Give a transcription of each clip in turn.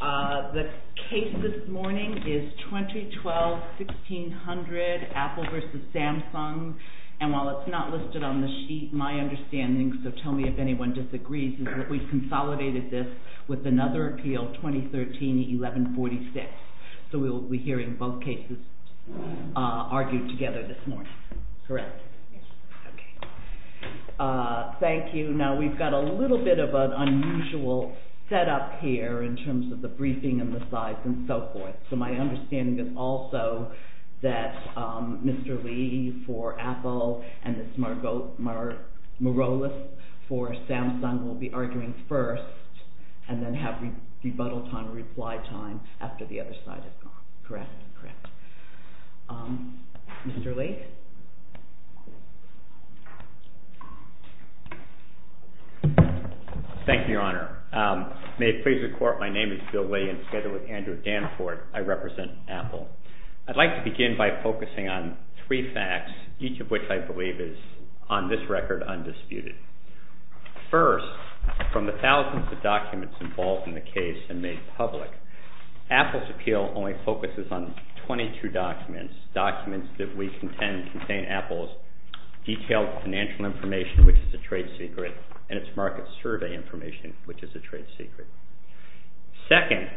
The case this morning is 2012-1600, Apple v. Samsung. And while it's not listed on the sheet, my understanding, so tell me if anyone disagrees, is that we've consolidated this with another appeal, 2013-1146. So we'll be hearing both cases argued together this morning. Correct? Thank you. Now we've got a little bit of an unusual setup here in terms of the briefing and the slides and so forth. So my understanding is also that Mr. Lee for Apple and Ms. Morales for Samsung will be arguing first and then have rebuttal time, reply time after the other side is gone. Correct? Correct. Mr. Lee? Thank you, Your Honor. May it please the Court, my name is Bill Williams, together with Andrew Danforth, I represent Apple. I'd like to begin by focusing on three facts, each of which I believe is, on this record, undisputed. First, from the thousands of documents involved in the case and made public, Apple's appeal only focuses on 22 documents, documents that we contend contain Apple's detailed financial information, which is a trade secret, and its market survey information, which is a trade secret. Second,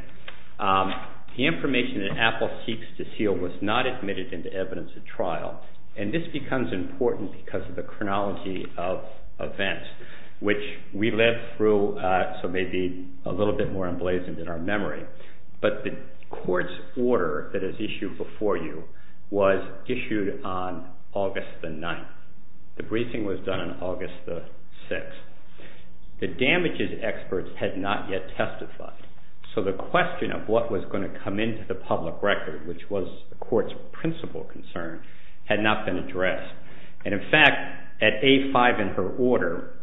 the information that Apple seeks to seal was not admitted into evidence at trial. And this becomes important because of the chronology of events, which we led through so maybe a little bit more emblazoned in our memory. But the court's order that is issued before you was issued on August the 9th. The briefing was done on August the 6th. The damages experts had not yet testified. So the question of what was going to come into the public record, which was the court's principal concern, had not been addressed. And in fact, at A5 in her order,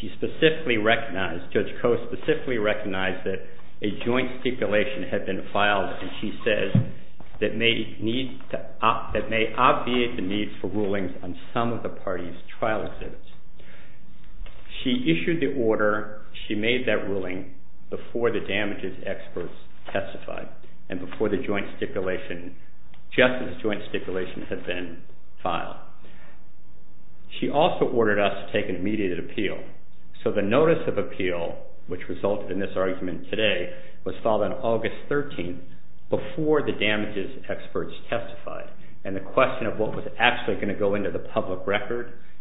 she specifically recognized, Judge Coe specifically recognized that a joint stipulation had been filed, and she says, that may obviate the need for rulings on some of the parties' trial suits. She issued the order, she made that ruling before the damages experts testified, and before the joint stipulation, just as the joint stipulation had been filed. She also ordered us to take an immediate appeal. So the notice of appeal, which resulted in this argument today, was filed on August 13th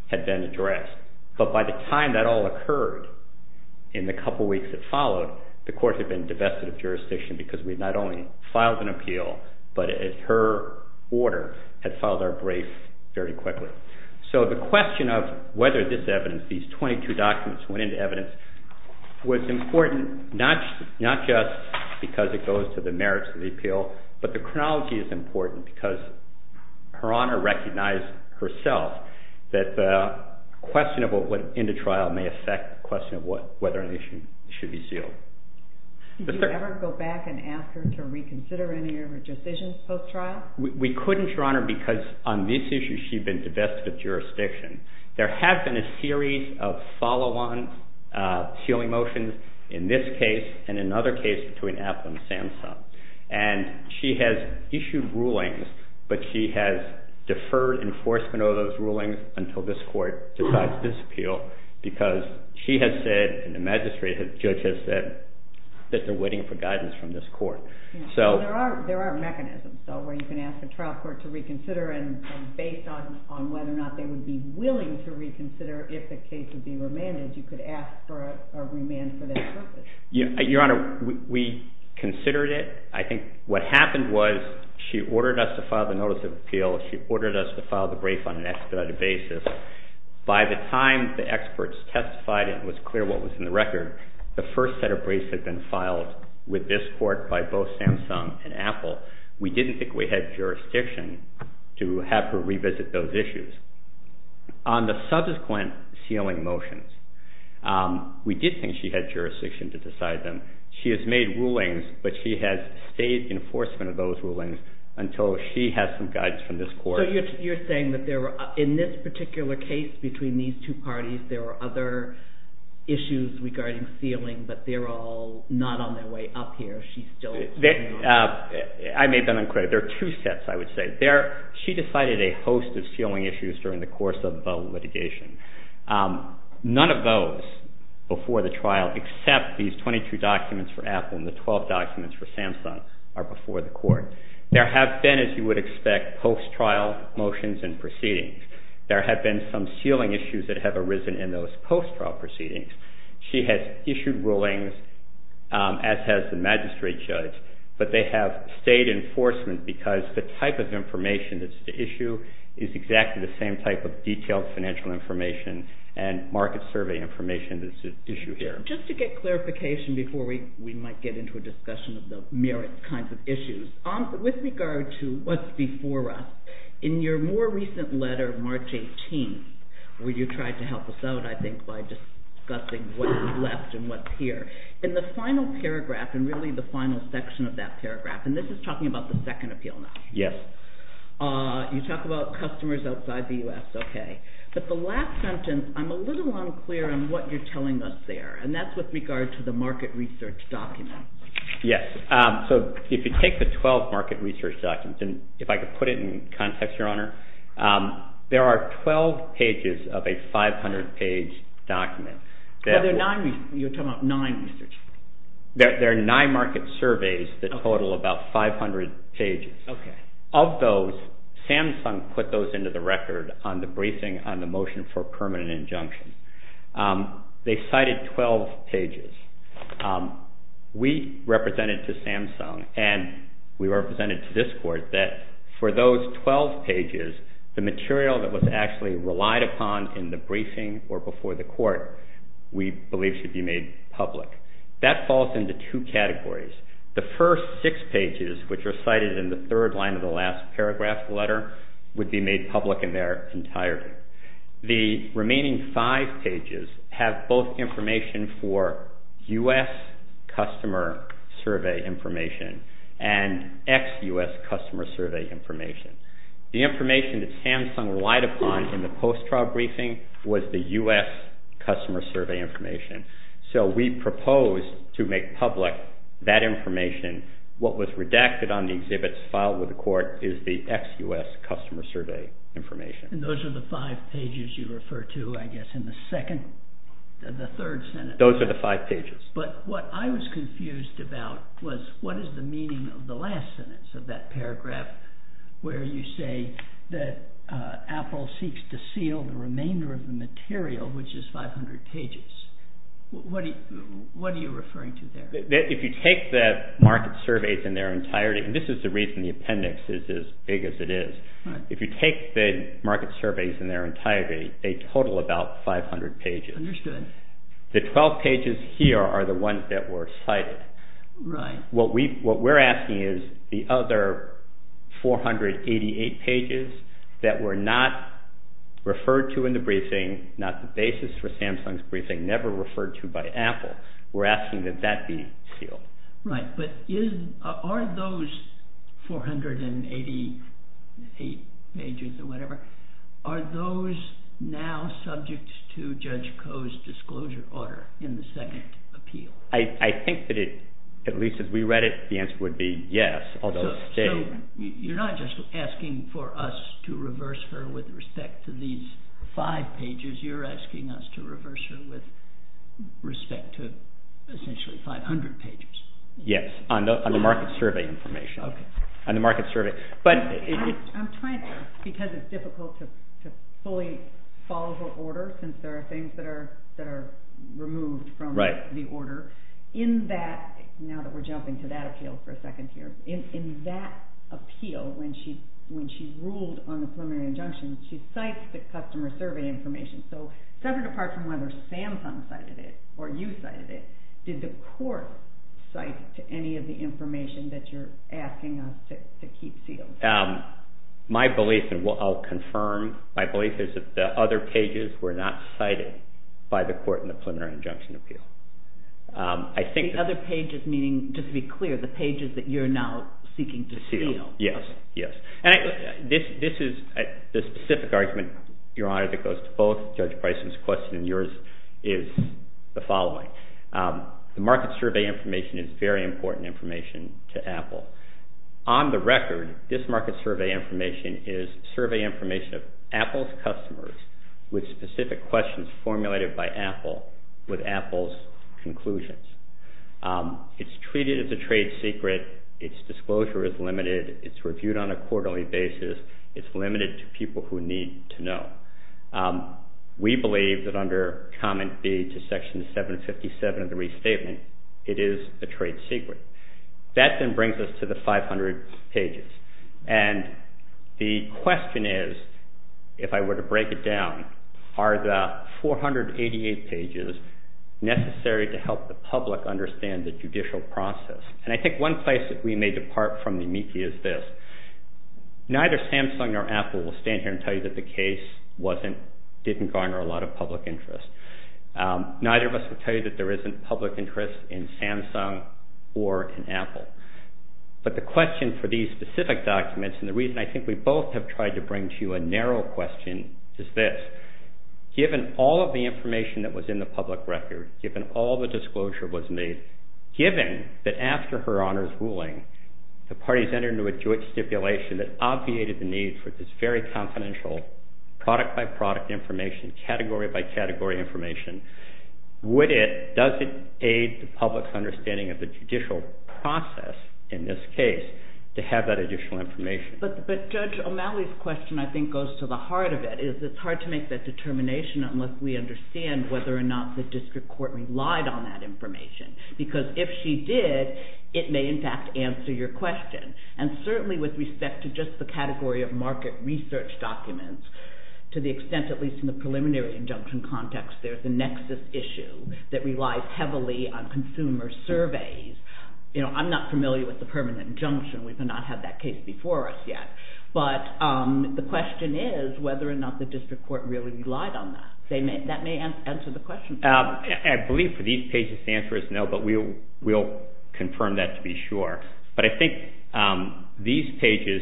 had been addressed. But by the time that all occurred, in the couple weeks that followed, the court had been divested of jurisdiction because we not only filed an appeal, but her order had filed our brief very quickly. So the question of whether this evidence, these 22 documents went into evidence, was important not just because it goes to the merits of the appeal, but the chronology is that the question of what went into trial may affect the question of whether an issue should be sealed. Did you ever go back and ask her to reconsider any of her decisions post-trial? We couldn't, Your Honor, because on this issue, she'd been divested of jurisdiction. There have been a series of follow-on sealing motions in this case and another case between until this court decides to disappeal because she has said and the magistrate has judged us that they're waiting for guidance from this court. So there are mechanisms where you can ask a trial court to reconsider and based on whether or not they would be willing to reconsider if the case would be remanded, you could ask for a remand for that purpose. Your Honor, we considered it. I think what happened was she ordered us to file the notice of appeal. She ordered us to file the brief on an expedited basis. By the time the experts testified and it was clear what was in the record, the first set of briefs had been filed with this court by both Samsung and Apple. We didn't think we had jurisdiction to have her revisit those issues. On the subsequent sealing motions, we did think she had jurisdiction to decide them. She has made rulings, but she has stayed in enforcement of those rulings until she has gotten guidance from this court. So you're saying that in this particular case between these two parties, there were other issues regarding sealing, but they're all not on their way up here. She's still... I made them unclear. There are two sets, I would say. She decided a host of sealing issues during the course of litigation. None of those before the trial except these 22 documents for Apple and the 12 documents for Samsung are before the court. There have been, as you would expect, post-trial motions and proceedings. There have been some sealing issues that have arisen in those post-trial proceedings. She has issued rulings, as has the magistrate judge, but they have stayed in enforcement because the type of information that's at issue is exactly the same type of detailed financial information and market survey information that's at issue here. So just to get clarification before we might get into a discussion of the merit kinds of issues, with regard to what's before us, in your more recent letter, March 18th, where you tried to help us out, I think, by discussing what's left and what's here, in the final paragraph and really the final section of that paragraph, and this is talking about the second appeal now. Yes. You talk about customers outside the U.S., okay. But the last sentence, I'm a little unclear on what you're telling us there, and that's with regard to the market research document. Yes. So if you take the 12 market research documents, and if I could put it in context, Your Honor, there are 12 pages of a 500-page document. You're talking about nine research documents. There are nine market surveys that total about 500 pages. Okay. Of those, Samsung put those into the record on the briefing on the motion for permanent injunction. They cited 12 pages. We represented to Samsung, and we represented to this court, that for those 12 pages, the material that was actually relied upon in the briefing or before the court, we believe should be made public. That falls into two categories. The first six pages, which are cited in the third line of the last paragraph letter, would be made public in their entirety. The remaining five pages have both information for U.S. customer survey information and ex-U.S. customer survey information. The information that Samsung relied upon in the post-trial briefing was the U.S. customer survey information. We proposed to make public that information. What was redacted on the exhibits filed with the court is the ex-U.S. customer survey information. Those are the five pages you refer to, I guess, in the third sentence. Those are the five pages. What I was confused about was what is the meaning of the last sentence of that paragraph where you say that Apple seeks to seal the remainder of the material, which is 500 pages. What are you referring to there? If you take the market surveys in their entirety, and this is the reason the appendix is as big as it is. If you take the market surveys in their entirety, they total about 500 pages. Understood. The 12 pages here are the ones that were cited. Right. What we're asking is the other 488 pages that were not referred to in the briefing, not the basis for Samsung's briefing, never referred to by Apple. We're asking that that be sealed. Right. Are those 488 pages or whatever, are those now subject to Judge Koh's disclosure order in the second appeal? I think that, at least as we read it, the answer would be yes, although it's big. You're not just asking for us to reverse her with respect to these five pages. You're asking us to reverse her with respect to essentially 500 pages. Yes, on the market survey information. Okay. On the market survey. I'm trying to, because it's difficult to fully follow the order since there are things that are removed from the order. In that, now that we're jumping to that appeal for a second here, in that appeal, when she ruled on the preliminary injunction, she cites the customer survey information. So separate apart from whether Samsung cited it or you cited it, did the court cite any of the information that you're asking us to keep sealed? My belief, and I'll confirm, my belief is that the other pages were not cited by the court in the preliminary injunction appeal. The other pages meaning, just to be clear, the pages that you're now seeking to seal. Yes, yes. This is the specific argument, Your Honor, that goes to both Judge Bryson's question and yours is the following. The market survey information is very important information to Apple. On the record, this market survey information is survey information of Apple's customers with specific questions formulated by Apple with Apple's conclusions. It's treated as a trade secret. Its disclosure is limited. It's reviewed on a quarterly basis. It's limited to people who need to know. We believe that under comment B to section 757 of the restatement, it is a trade secret. That then brings us to the 500 pages. And the question is, if I were to break it down, are the 488 pages necessary to help the public understand the judicial process? And I think one place that we may depart from the amici is this. Neither Samsung nor Apple will stand here and tell you that the case didn't garner a lot of public interest. Neither of us will tell you that there isn't public interest in Samsung or in Apple. But the question for these specific documents, and the reason I think we both have tried to bring to you a narrow question, is this. Given all of the information that was in the public record, given all the disclosure was made, given that after Her Honor's ruling, the parties entered into a joint stipulation that obviated the needs for this very confidential product-by-product information, category-by-category information, would it, does it aid the public's understanding of the judicial process in this case to have that additional information? But Judge O'Malley's question I think goes to the heart of it. It's hard to make that determination unless we understand whether or not the district court relied on that information. Because if she did, it may in fact answer your question. And certainly with respect to just the category of market research documents, to the extent at least in the preliminary injunction context, there's a nexus issue that relies heavily on consumer surveys. I'm not familiar with the permanent injunction. We've not had that case before us yet. But the question is whether or not the district court really relied on that. That may answer the question. I believe for these pages the answer is no, but we'll confirm that to be sure. But I think these pages,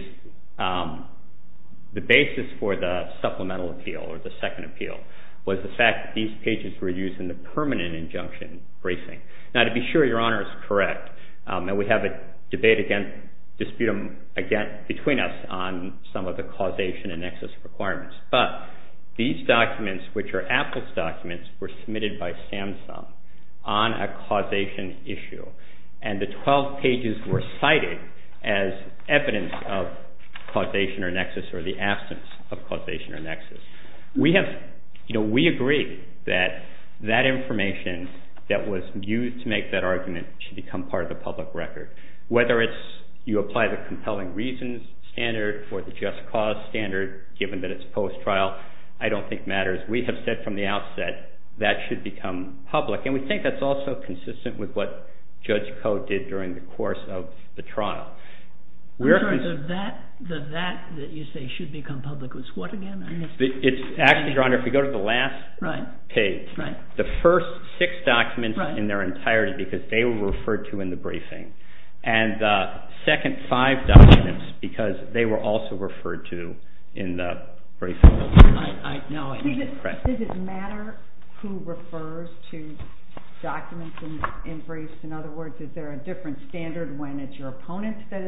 the basis for the supplemental appeal or the second appeal was the fact that these pages were used in the permanent injunction bracing. Now, to be sure, Your Honor is correct that we have a debate again, disputum again between us on some of the causation and excess requirements. But these documents, which are Apple's documents, were submitted by Samsung on a causation issue. And the 12 pages were cited as evidence of causation or nexus or the absence of causation or nexus. We have, you know, we agree that that information that was used to make that argument should become part of the public record. Whether it's you apply the compelling reasons standard or the just cause standard, given that it's post-trial, I don't think matters. We have said from the outset that should become public. And we think that's also consistent with what Judge Koh did during the course of the trial. The that that you say should become public is what again? Actually, Your Honor, if you go to the last page, the first six documents in their entirety because they were referred to in the briefing and the second five documents because they were also referred to in the briefing. Does it matter who refers to documents in briefs? In other words, is there a different standard when it's your opponent that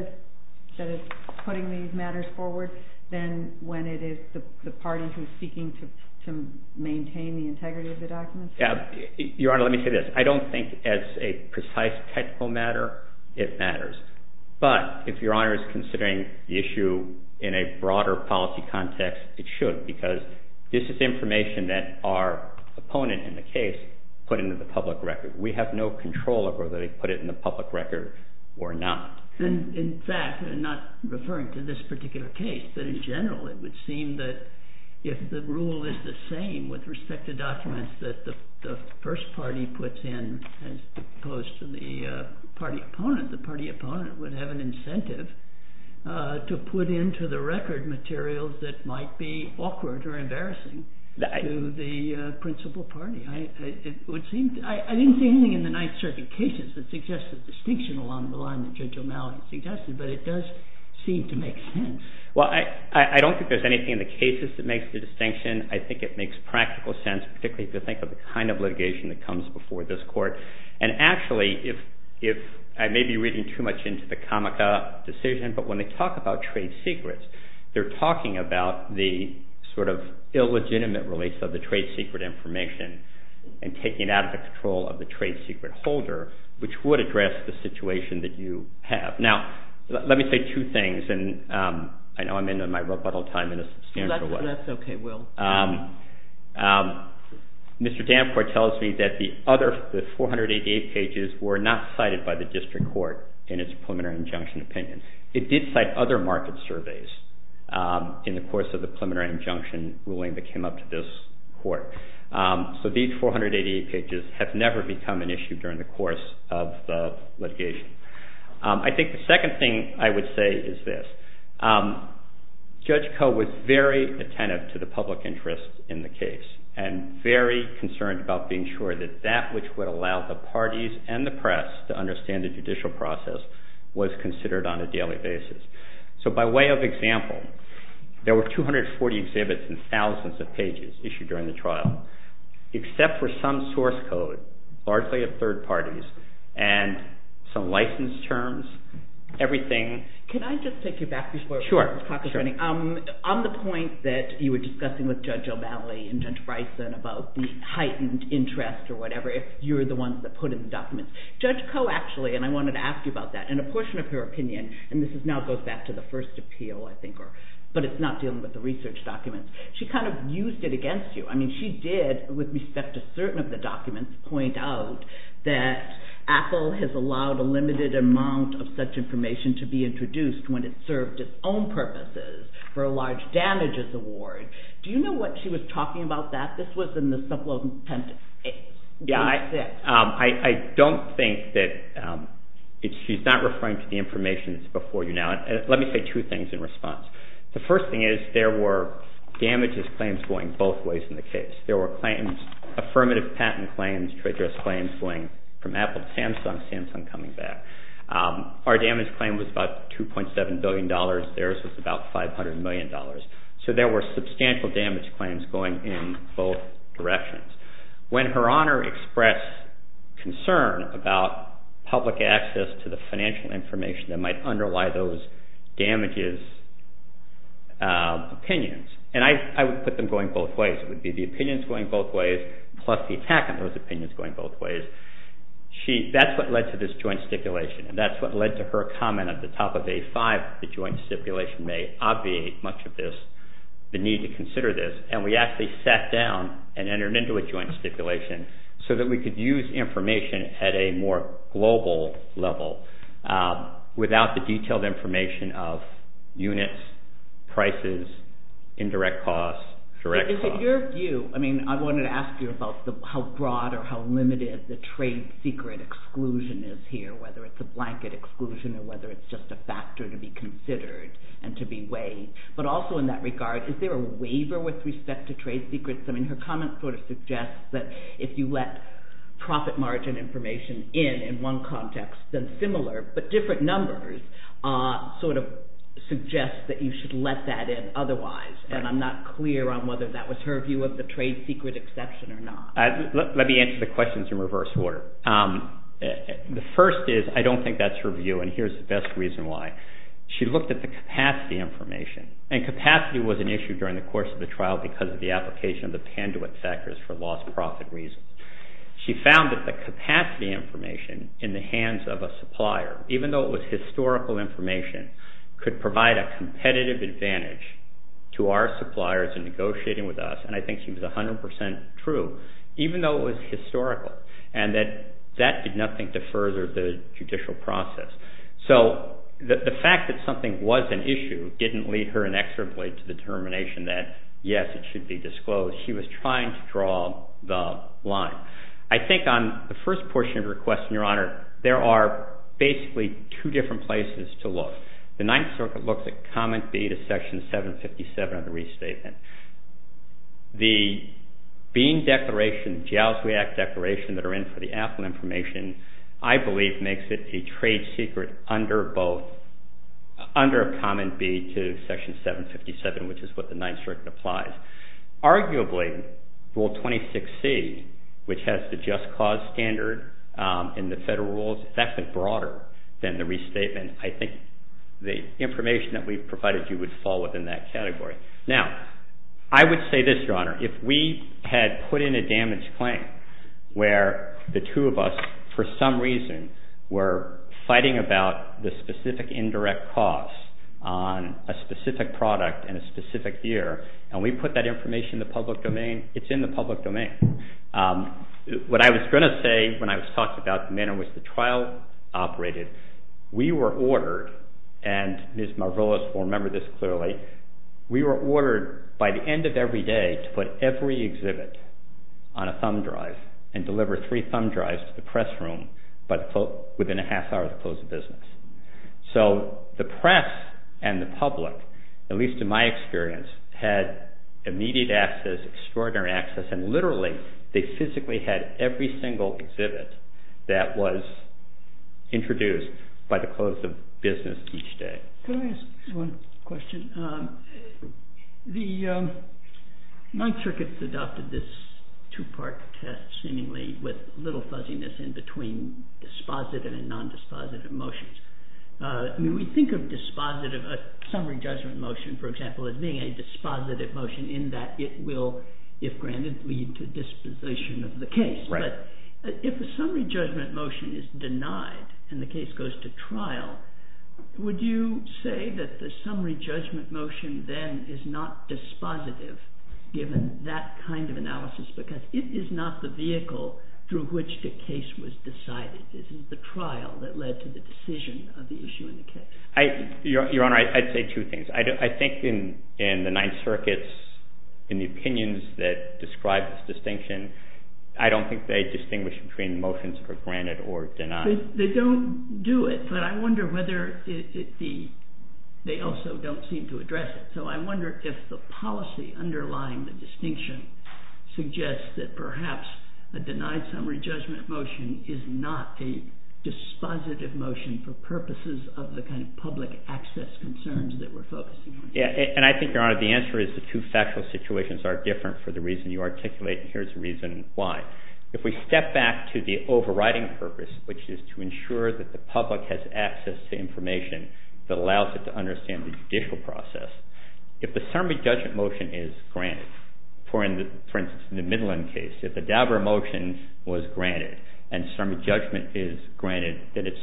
is putting these matters forward than when it is the parties who are seeking to maintain the integrity of the documents? Your Honor, let me say this. I don't think that's a precise technical matter. It matters. But if Your Honor is considering the issue in a broader policy context, it should because this is information that our opponent in the case put into the public record. We have no control over whether they put it in the public record or not. In fact, I'm not referring to this particular case. But in general, it would seem that if the rule is the same with respect to documents that the first party puts in as opposed to the party opponent, the party opponent would have an incentive to put into the record materials that might be awkward or embarrassing to the principal party. I didn't see anything in the Ninth Circuit cases that suggests a distinction along the line that Judge O'Malley suggested, but it does seem to make sense. Well, I don't think there's anything in the cases that makes the distinction. I think it makes practical sense, particularly to think of the kind of litigation that comes before this Court. And actually, I may be reading too much into the Comica decision, but when they talk about trade secrets, they're talking about the sort of illegitimate release of the trade secret information and taking it out of the control of the trade secret holder, which would address the situation that you have. Now, let me say two things, and I know I'm in my rebuttal time in a substantial way. Mr. Danforth tells me that the other 488 pages were not cited by the district court in its preliminary injunction opinion. It did cite other market surveys in the course of the preliminary injunction ruling that came up to this Court. So these 488 pages have never become an issue during the course of the litigation. I think the second thing I would say is this. Judge Koh was very attentive to the public interest in the case and very concerned about being sure that that which would allow the parties and the press to understand the judicial process was considered on a daily basis. So by way of example, there were 240 exhibits and thousands of pages issued during the trial, except for some source code, largely of third parties, and some license terms, everything. Can I just take you back before I talk about anything? Sure, sure. On the point that you were discussing with Judge O'Malley and Judge Bryson about the heightened interest or whatever, if you're the ones that put in the documents, Judge Koh actually, and I wanted to ask you about that, and a portion of her opinion, and this now goes back to the first appeal, I think, but it's not dealing with the research documents. She kind of used it against you. I mean, she did, with respect to certain of the documents, point out that Apple has allowed a limited amount of such information to be introduced when it served its own purposes for a large damages award. Do you know what she was talking about that? This was in the supplemental sentence. Yeah, I don't think that she's not referring to the information that's before you now. Let me say two things in response. The first thing is there were damages claims going both ways in the case. There were claims, affirmative patent claims to address claims going from Apple to Samsung, Samsung coming back. Our damage claim was about $2.7 billion. Theirs was about $500 million. So there were substantial damage claims going in both directions. When Her Honor expressed concern about public access to the financial information that might underlie those damages opinions, and I would put them going both ways. It would be the opinions going both ways, plus the attack on those opinions going both ways. That's what led to this joint stipulation, and that's what led to her comment at the top of day five that joint stipulation may obviate much of this, the need to consider this. And we actually sat down and entered into a joint stipulation so that we could use information at a more global level without the detailed information of units, prices, indirect costs, direct costs. But is it your view? I mean, I wanted to ask you about how broad or how limited the trade secret exclusion is here, whether it's a blanket exclusion or whether it's just a factor to be considered and to be weighed. But also in that regard, is there a waiver with respect to trade secrets? I mean, her comment sort of suggests that if you let profit margin information in in one context, then similar, but different numbers sort of suggest that you should let that in otherwise. And I'm not clear on whether that was her view of the trade secret exception or not. Let me answer the questions in reverse order. The first is I don't think that's her view, and here's the best reason why. She looked at the capacity information, and capacity was an issue during the course of the trial because of the application of the Panduit factors for lost profit reasons. She found that the capacity information in the hands of a supplier, even though it was historical information, could provide a competitive advantage to our suppliers in negotiating with us, and I think she was 100% true, even though it was historical, and that that did nothing to further the judicial process. So the fact that something was an issue didn't leave her an extra blade to the determination that, yes, it should be disclosed. She was trying to draw the line. I think on the first portion of her question, Your Honor, there are basically two different places to look. The Ninth Circuit looks at Comment B to Section 757 of the restatement. The Bean Declaration, Jow's React Declaration that are in for the Apple information, I believe makes it a trade secret under both, under Comment B to Section 757, which is what the Ninth Circuit applies. Arguably, Rule 26C, which has the just cause standard in the federal rules, that's a broader than the restatement. I think the information that we've provided you would fall within that category. Now, I would say this, Your Honor. If we had put in a damage claim where the two of us, for some reason, were fighting about the specific indirect cost on a specific product in a specific year, and we put that information in the public domain, it's in the public domain. What I was going to say when I was talking about the manner in which the trial operated, we were ordered, and Ms. Marvolis will remember this clearly, we were ordered by the end of every day to put every exhibit on a thumb drive and deliver three thumb drives to the press room within a half hour of the close of business. The press and the public, at least in my experience, had immediate access, extraordinary access, and literally, they physically had every single exhibit that was introduced by the close of business each day. Can I ask one question? My circuit adopted this two-part test seemingly with little fuzziness in between dispositive and non-dispositive motions. When we think of a summary judgment motion, for example, as being a dispositive motion in that it will, if granted, lead to disposition of the case. If the summary judgment motion is denied and the case goes to trial, would you say that the summary judgment motion then is not dispositive given that kind of analysis because it is not the vehicle through which the case was decided. It is the trial that led to the decision of the issue in the case. Your Honor, I'd say two things. I think in the Ninth Circuit's, in the opinions that describe this distinction, I don't think they distinguish between motions for granted or denied. They don't do it, but I wonder whether they also don't seem to address it. I wonder if the policy underlying the distinction suggests that perhaps a denied summary judgment motion is not a dispositive motion for purposes of the kind of public access concerns that you propose. Yeah, and I think, Your Honor, the answer is the two factual situations are different for the reason you articulate, and here's the reason why. If we step back to the overriding purpose, which is to ensure that the public has access to information that allows it to understand the judicial process, if the summary judgment motion is granted, for instance, in the Midland case, if the Dabur motion was granted and summary judgment is granted, then it's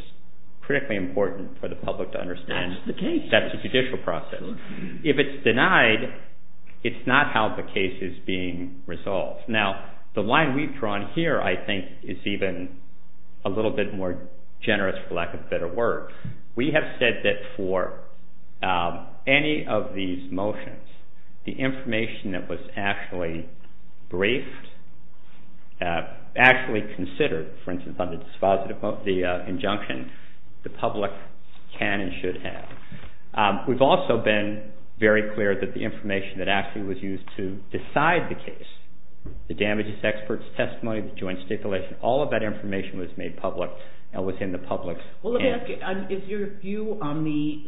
critically important for the public to understand that the judicial process, if it's denied, it's not how the case is being resolved. Now, the line we've drawn here, I think, is even a little bit more generous for lack of a better word. We have said that for any of these motions, the information that was actually briefed, actually considered, for instance, on the dispositive motion, the injunction, the public can and should have. We've also been very clear that the information that actually was used to decide the case, the damages expert's testimony, the joint stipulation, all of that information was made public and was in the public's hands. Well, let me ask you, is your view on the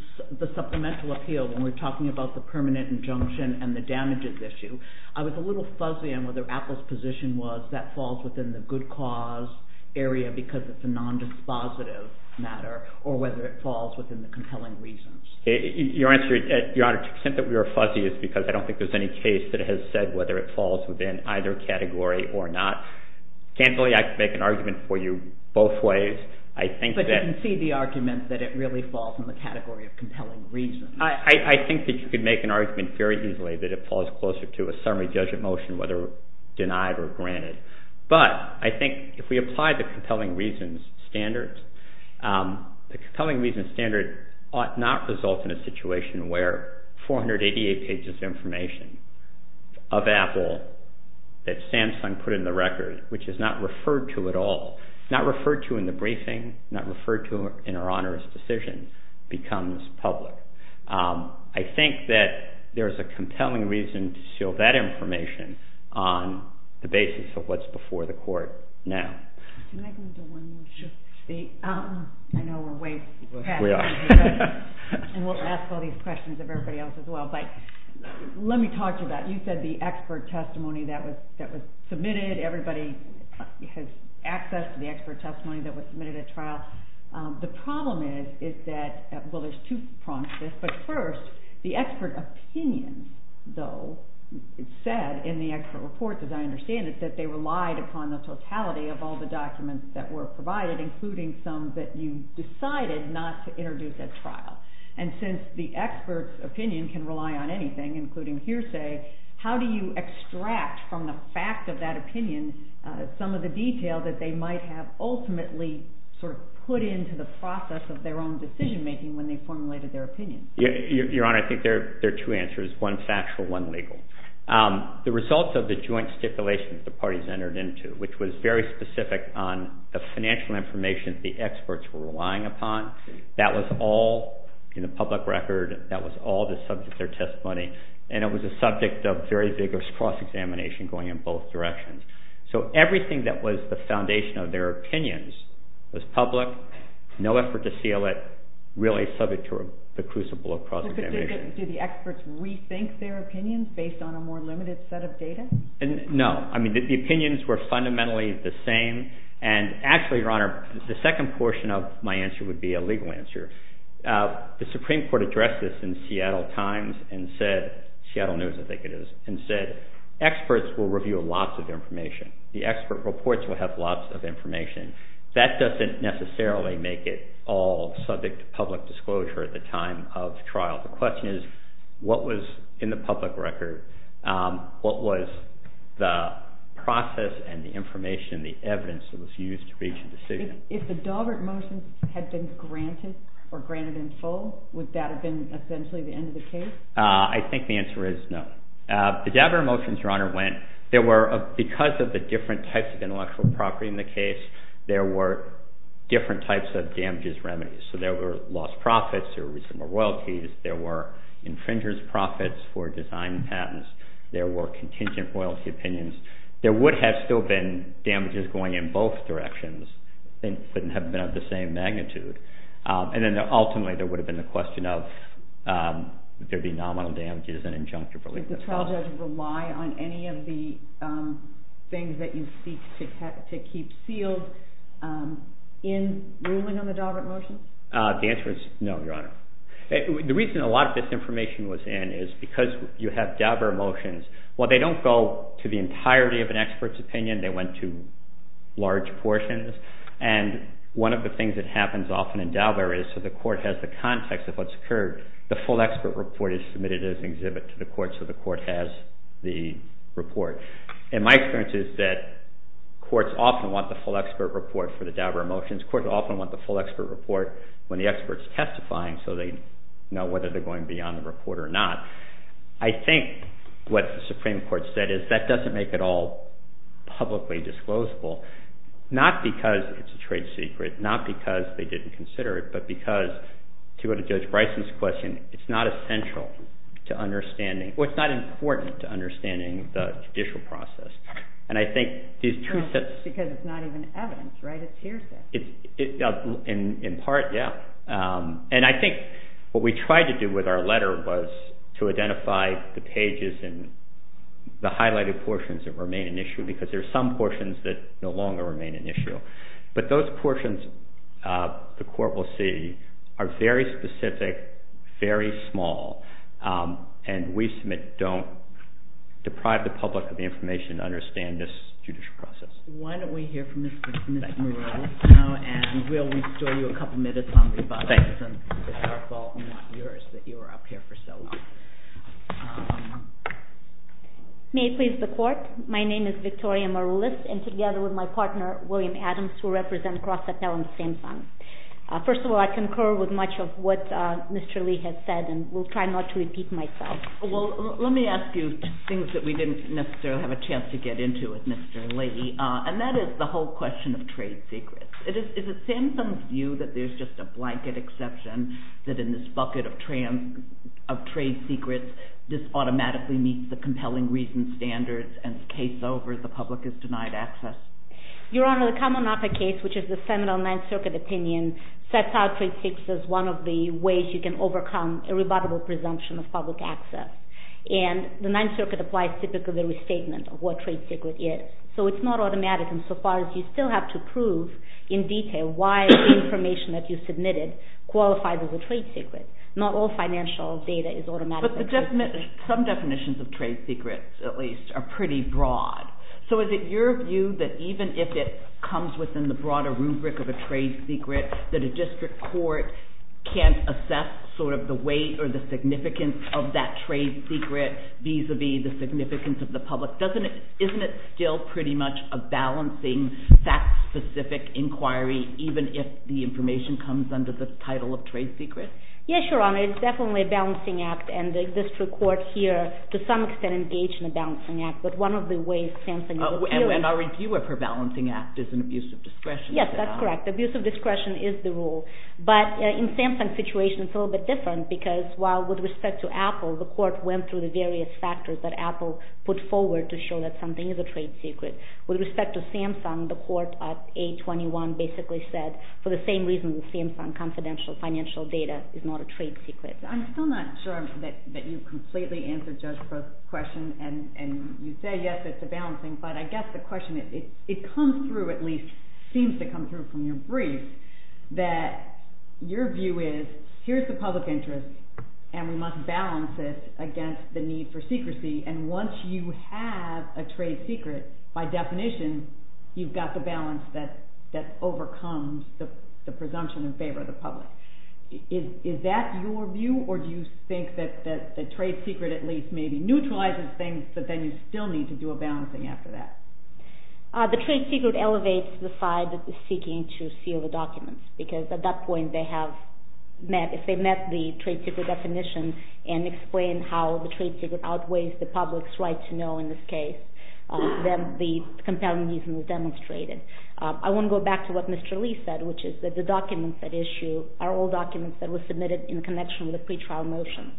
supplemental appeal when we're talking about the permanent injunction and the damages issue, I was a little fuzzy on whether Apple's position was that falls within the good cause area because it's a nondispositive matter or whether it falls within the compelling reasons. Your Honor, to the extent that we were fuzzy is because I don't think there's any case that has said whether it falls within either category or not. I can't really make an argument for you both ways. But I can see the argument that it really falls in the category of compelling reasons. I think that you could make an argument very easily that it falls closer to a summary judgment motion, whether denied or granted. But I think if we apply the compelling reasons standard, the compelling reasons standard ought not result in a situation where 488 pages of information of Apple that Samsung put in the record, which is not referred to at all, not referred to in the briefing, not referred to in our Honor's decision, becomes public. I think that there's a compelling reason to show that information on the basis of what's before the court now. Can I just say one thing? Sure. I know we're way past time. We are. And we'll ask all these questions of everybody else as well. But let me talk to that. You said the expert testimony that was submitted, everybody had access to the expert testimony that was submitted at trial. The problem is that, well, there's two problems here. But first, the expert opinion, though, it said in the expert report, as I understand it, that they relied upon the totality of all the documents that were provided, including some that you decided not to introduce at trial. And since the expert's opinion can rely on anything, including hearsay, how do you extract from the fact of that opinion some of the detail that they might have ultimately sort of put into the process of their own decision making when they formulated their opinion? Your Honor, I think there are two answers, one factual, one legal. The results of the joint stipulation that the parties entered into, which was very specific on the financial information that the experts were relying upon, that was all in the public record. That was all the subject of their testimony. And it was a subject of very vigorous cross-examination going in both directions. So everything that was the foundation of their opinions was public, no effort to seal it, really subject to the crucible of cross-examination. Did the experts rethink their opinions based on a more limited set of data? No. I mean, the opinions were fundamentally the same. And actually, Your Honor, the second portion of my answer would be a legal answer. The Supreme Court addressed this in Seattle Times and said, Seattle News Indicators, and said experts will review lots of information. The expert reports will have lots of information. That doesn't necessarily make it all subject to public disclosure at the time of trial. The question is, what was in the public record? What was the process and the information, the evidence that was used to reach a decision? If the Daubert Motions had been granted or granted in full, would that have been essentially the end of the case? I think the answer is no. The Daubert Motions, Your Honor, because of the different types of intellectual property in the case, there were different types of damages remedies. So there were lost profits, there were reasonable royalties, there were infringer's profits for design patents, there were contingent royalty opinions. There would have still been damages going in both directions and have been of the same magnitude. And then ultimately, there would have been the question of there being nominal damages and injunctive relief. Does the trial judge rely on any of the things that you speak to keep sealed in ruling on the Daubert Motions? The answer is no, Your Honor. The reason a lot of this information was in is because you have Daubert Motions. While they don't go to the entirety of an expert's opinion, they went to large portions. And one of the things that happens often in Daubert is so the court has the context of what's occurred, the full expert report is submitted as an exhibit to the court so the court has the report. And my experience is that courts often want the full expert report for the Daubert Motions. Courts often want the full expert report when the expert's testifying so they know whether they're going to be on the report or not. I think what the Supreme Court said is that doesn't make it all publicly disclosable, not because it's a trade secret, not because they didn't consider it, but because to go to Judge Bryson's question, it's not essential to understanding, well, it's not important to understanding the judicial process. And I think these two sets... Because it's not even evidence, right? It's hearsay. In part, yeah. And I think what we tried to do with our letter was to identify the pages and the highlighted portions that remain an issue because there are some portions that no longer remain an issue. But those portions, the court will see, are very specific, very small, and we submit don't deprive the public of the information to understand this judicial process. Why don't we hear from Ms. Morrell now, and we'll restore you a couple minutes on your comments, and it's our fault, not yours, that you were up here for so long. May I please report? My name is Victoria Morrellis, and together with my partner, William Adams, who represents Cross-Examination Fund. First of all, I concur with much of what Mr. Lee had said, and will try not to repeat myself. Well, let me ask you things that we didn't necessarily have a chance to get into with Mr. Lee, and that is the whole question of trade secrets. Is it Samson's view that there's just a blanket exception, that in this bucket of trade secrets, this automatically meets the compelling reason standards, and it's case over, the public is denied access? Your Honor, the Kamenaca case, which is the seminal Ninth Circuit opinion, sets out trade presumption of public access, and the Ninth Circuit applies typically a restatement of what trade secret is, so it's not automatic insofar as you still have to prove in detail why the information that you submitted qualifies as a trade secret. Not all financial data is automatic. But some definitions of trade secrets, at least, are pretty broad. So is it your view that even if it comes within the broader rubric of a trade secret, that the district court can't assess sort of the weight or the significance of that trade secret vis-a-vis the significance of the public? Isn't it still pretty much a balancing, fact-specific inquiry, even if the information comes under the title of trade secret? Yes, Your Honor. It's definitely a balancing act, and the district court here, to some extent, engaged in a balancing act, but one of the ways Samson... And our review of her balancing act is an abuse of discretion. Yes, that's correct. Abuse of discretion is the rule. But in Samson's situation, it's a little bit different, because while, with respect to Apple, the court went through the various factors that Apple put forward to show that something is a trade secret, with respect to Samson, the court at 821 basically said, for the same reason that Samson confidential financial data is not a trade secret. I'm still not sure that you completely answered just the question, and you say, yes, it's a balancing, but I guess the question, it comes through, at least, seems to come through from your brief, that your view is, here's the public interest, and we must balance it against the need for secrecy, and once you have a trade secret, by definition, you've got the balance that overcomes the presumption in favor of the public. Is that your view, or do you think that the trade secret at least maybe neutralizes things, but then you still need to do a balancing act for that? The trade secret elevates the side that is seeking to seal the documents, because at that point, they have met, if they met the trade secret definition and explained how the trade secret outweighs the public's right to know in this case, then the compelling reason was demonstrated. I want to go back to what Mr. Lee said, which is that the documents at issue are all documents that were submitted in connection with a pretrial motion,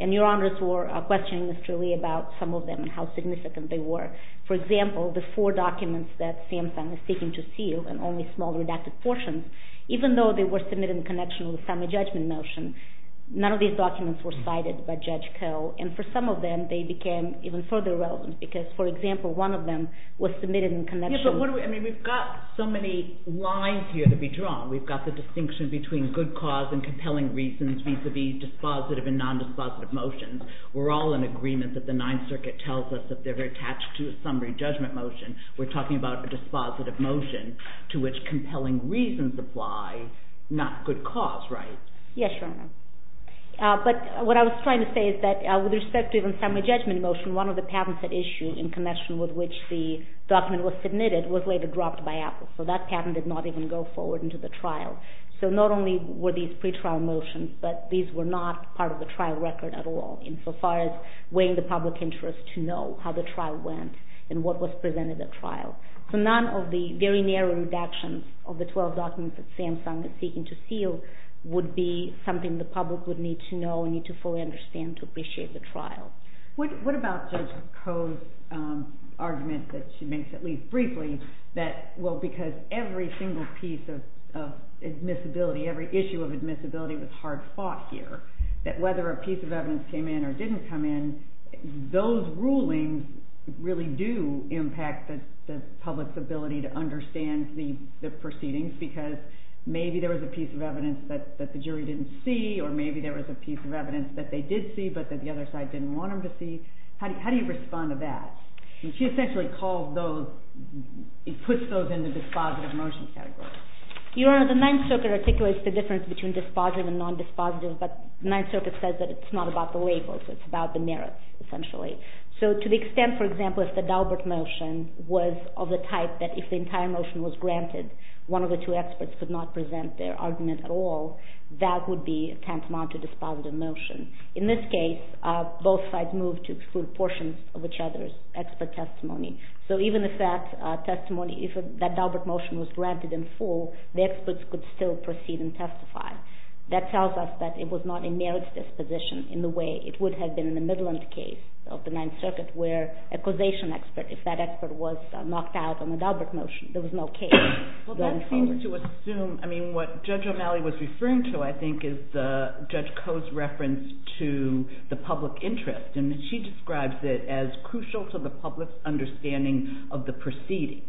and your honors were questioning Mr. Lee about some of them and how significant they were. For example, the four documents that SAMHSA was seeking to seal, and only small redacted portions, even though they were submitted in connection with a judgment motion, none of these documents were cited by Judge Koh, and for some of them, they became even further relevant, because, for example, one of them was submitted in connection... Yes, but we've got so many lines here to be drawn. We've got the distinction between good cause and compelling reasons vis-à-vis dispositive and non-dispositive motions. We're all in agreement that the Ninth Circuit tells us that they're attached to a summary judgment motion. We're talking about a dispositive motion to which compelling reasons apply, not good cause, right? Yes, Your Honor. But what I was trying to say is that with respect to the summary judgment motion, one of the patents at issue in connection with which the document was submitted was later dropped by Apple, so that patent did not even go forward into the trial. So not only were these pretrial motions, but these were not part of the trial record at all, insofar as weighing the public interest to know how the trial went and what was presented at trial. So none of the very narrow redactions of the 12 documents that Samsung is seeking to seal would be something the public would need to know and need to fully understand to appreciate the trial. What about Judge Koh's argument that she makes, at least briefly, that, well, because every single piece of admissibility, every issue of admissibility was hard fought here, that whether a piece of evidence came in or didn't come in, those rulings really do impact the public's ability to understand the proceedings, because maybe there was a piece of evidence that the jury didn't see, or maybe there was a piece of evidence that they did see, but that the other side didn't want them to see. How do you respond to that? She essentially puts those in the dispositive motion category. Your Honor, the Ninth Circuit articulates the difference between dispositive and non-dispositive, but the Ninth Circuit says that it's not about the labels. It's about the merits, essentially. So to the extent, for example, if the Dalbert motion was of the type that if the entire motion was granted, one of the two experts could not present their argument at all, that would be tantamount to dispositive motion. In this case, both sides moved to exclude portions of each other's expert testimony. So even if that Dalbert motion was granted in full, the experts could still proceed and testify. That tells us that it was not a merits disposition in the way it would have been in the Midland case of the Ninth Circuit, where a causation expert, if that expert was knocked out on the Dalbert motion, there was no case. Well, that seems to assume, I mean, what Judge O'Malley was referring to, I think, is Judge Coe's reference to the public interest. And she describes it as crucial to the public's understanding of the proceedings.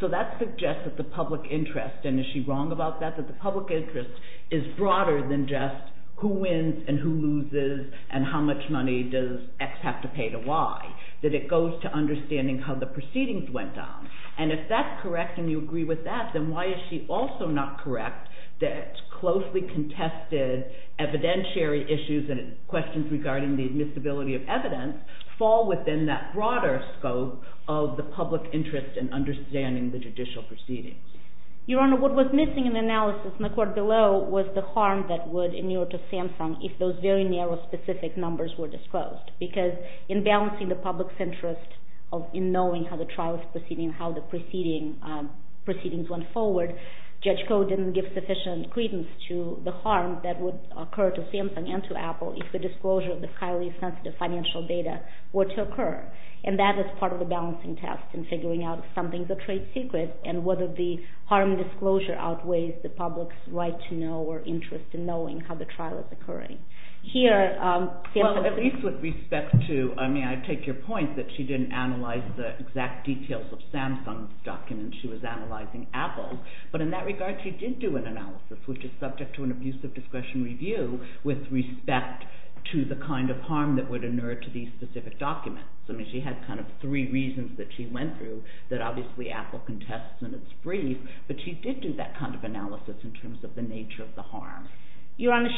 So that suggests that the public interest, and is she wrong about that, that the public interest is broader than just who wins and who loses and how much money does X have to pay to Y. That it goes to understanding how the proceedings went down. And if that's correct and you agree with that, then why is she also not correct that closely contested evidentiary issues and questions regarding the admissibility of evidence fall within that broader scope of the public interest in understanding the judicial proceedings? Your Honor, what was missing in the analysis in the court below was the harm that would inure to SAMHSA if those very narrow specific numbers were disclosed. Because in balancing the public's interest in knowing how the trial is proceeding, how the proceedings went forward, Judge Coe didn't give sufficient credence to the harm that would occur to SAMHSA and to Apple if the disclosure of this highly sensitive financial data were to occur. And that is part of the balancing task in figuring out if something's a trade secret and whether the harm disclosure outweighs the public's right to know or interest in knowing how the trial is occurring. Here... Well, at least with respect to... I mean, I take your point that she didn't analyze the exact details of SAMHSA documents. She was analyzing Apple. But in that regard, she did do an analysis, which is subject to an abusive discretion review with respect to the kind of harm that would inure to these specific documents. I mean, she had kind of three reasons that she went through that obviously Apple contests in its brief. But she did do that kind of analysis in terms of the nature of the harm. Your Honor,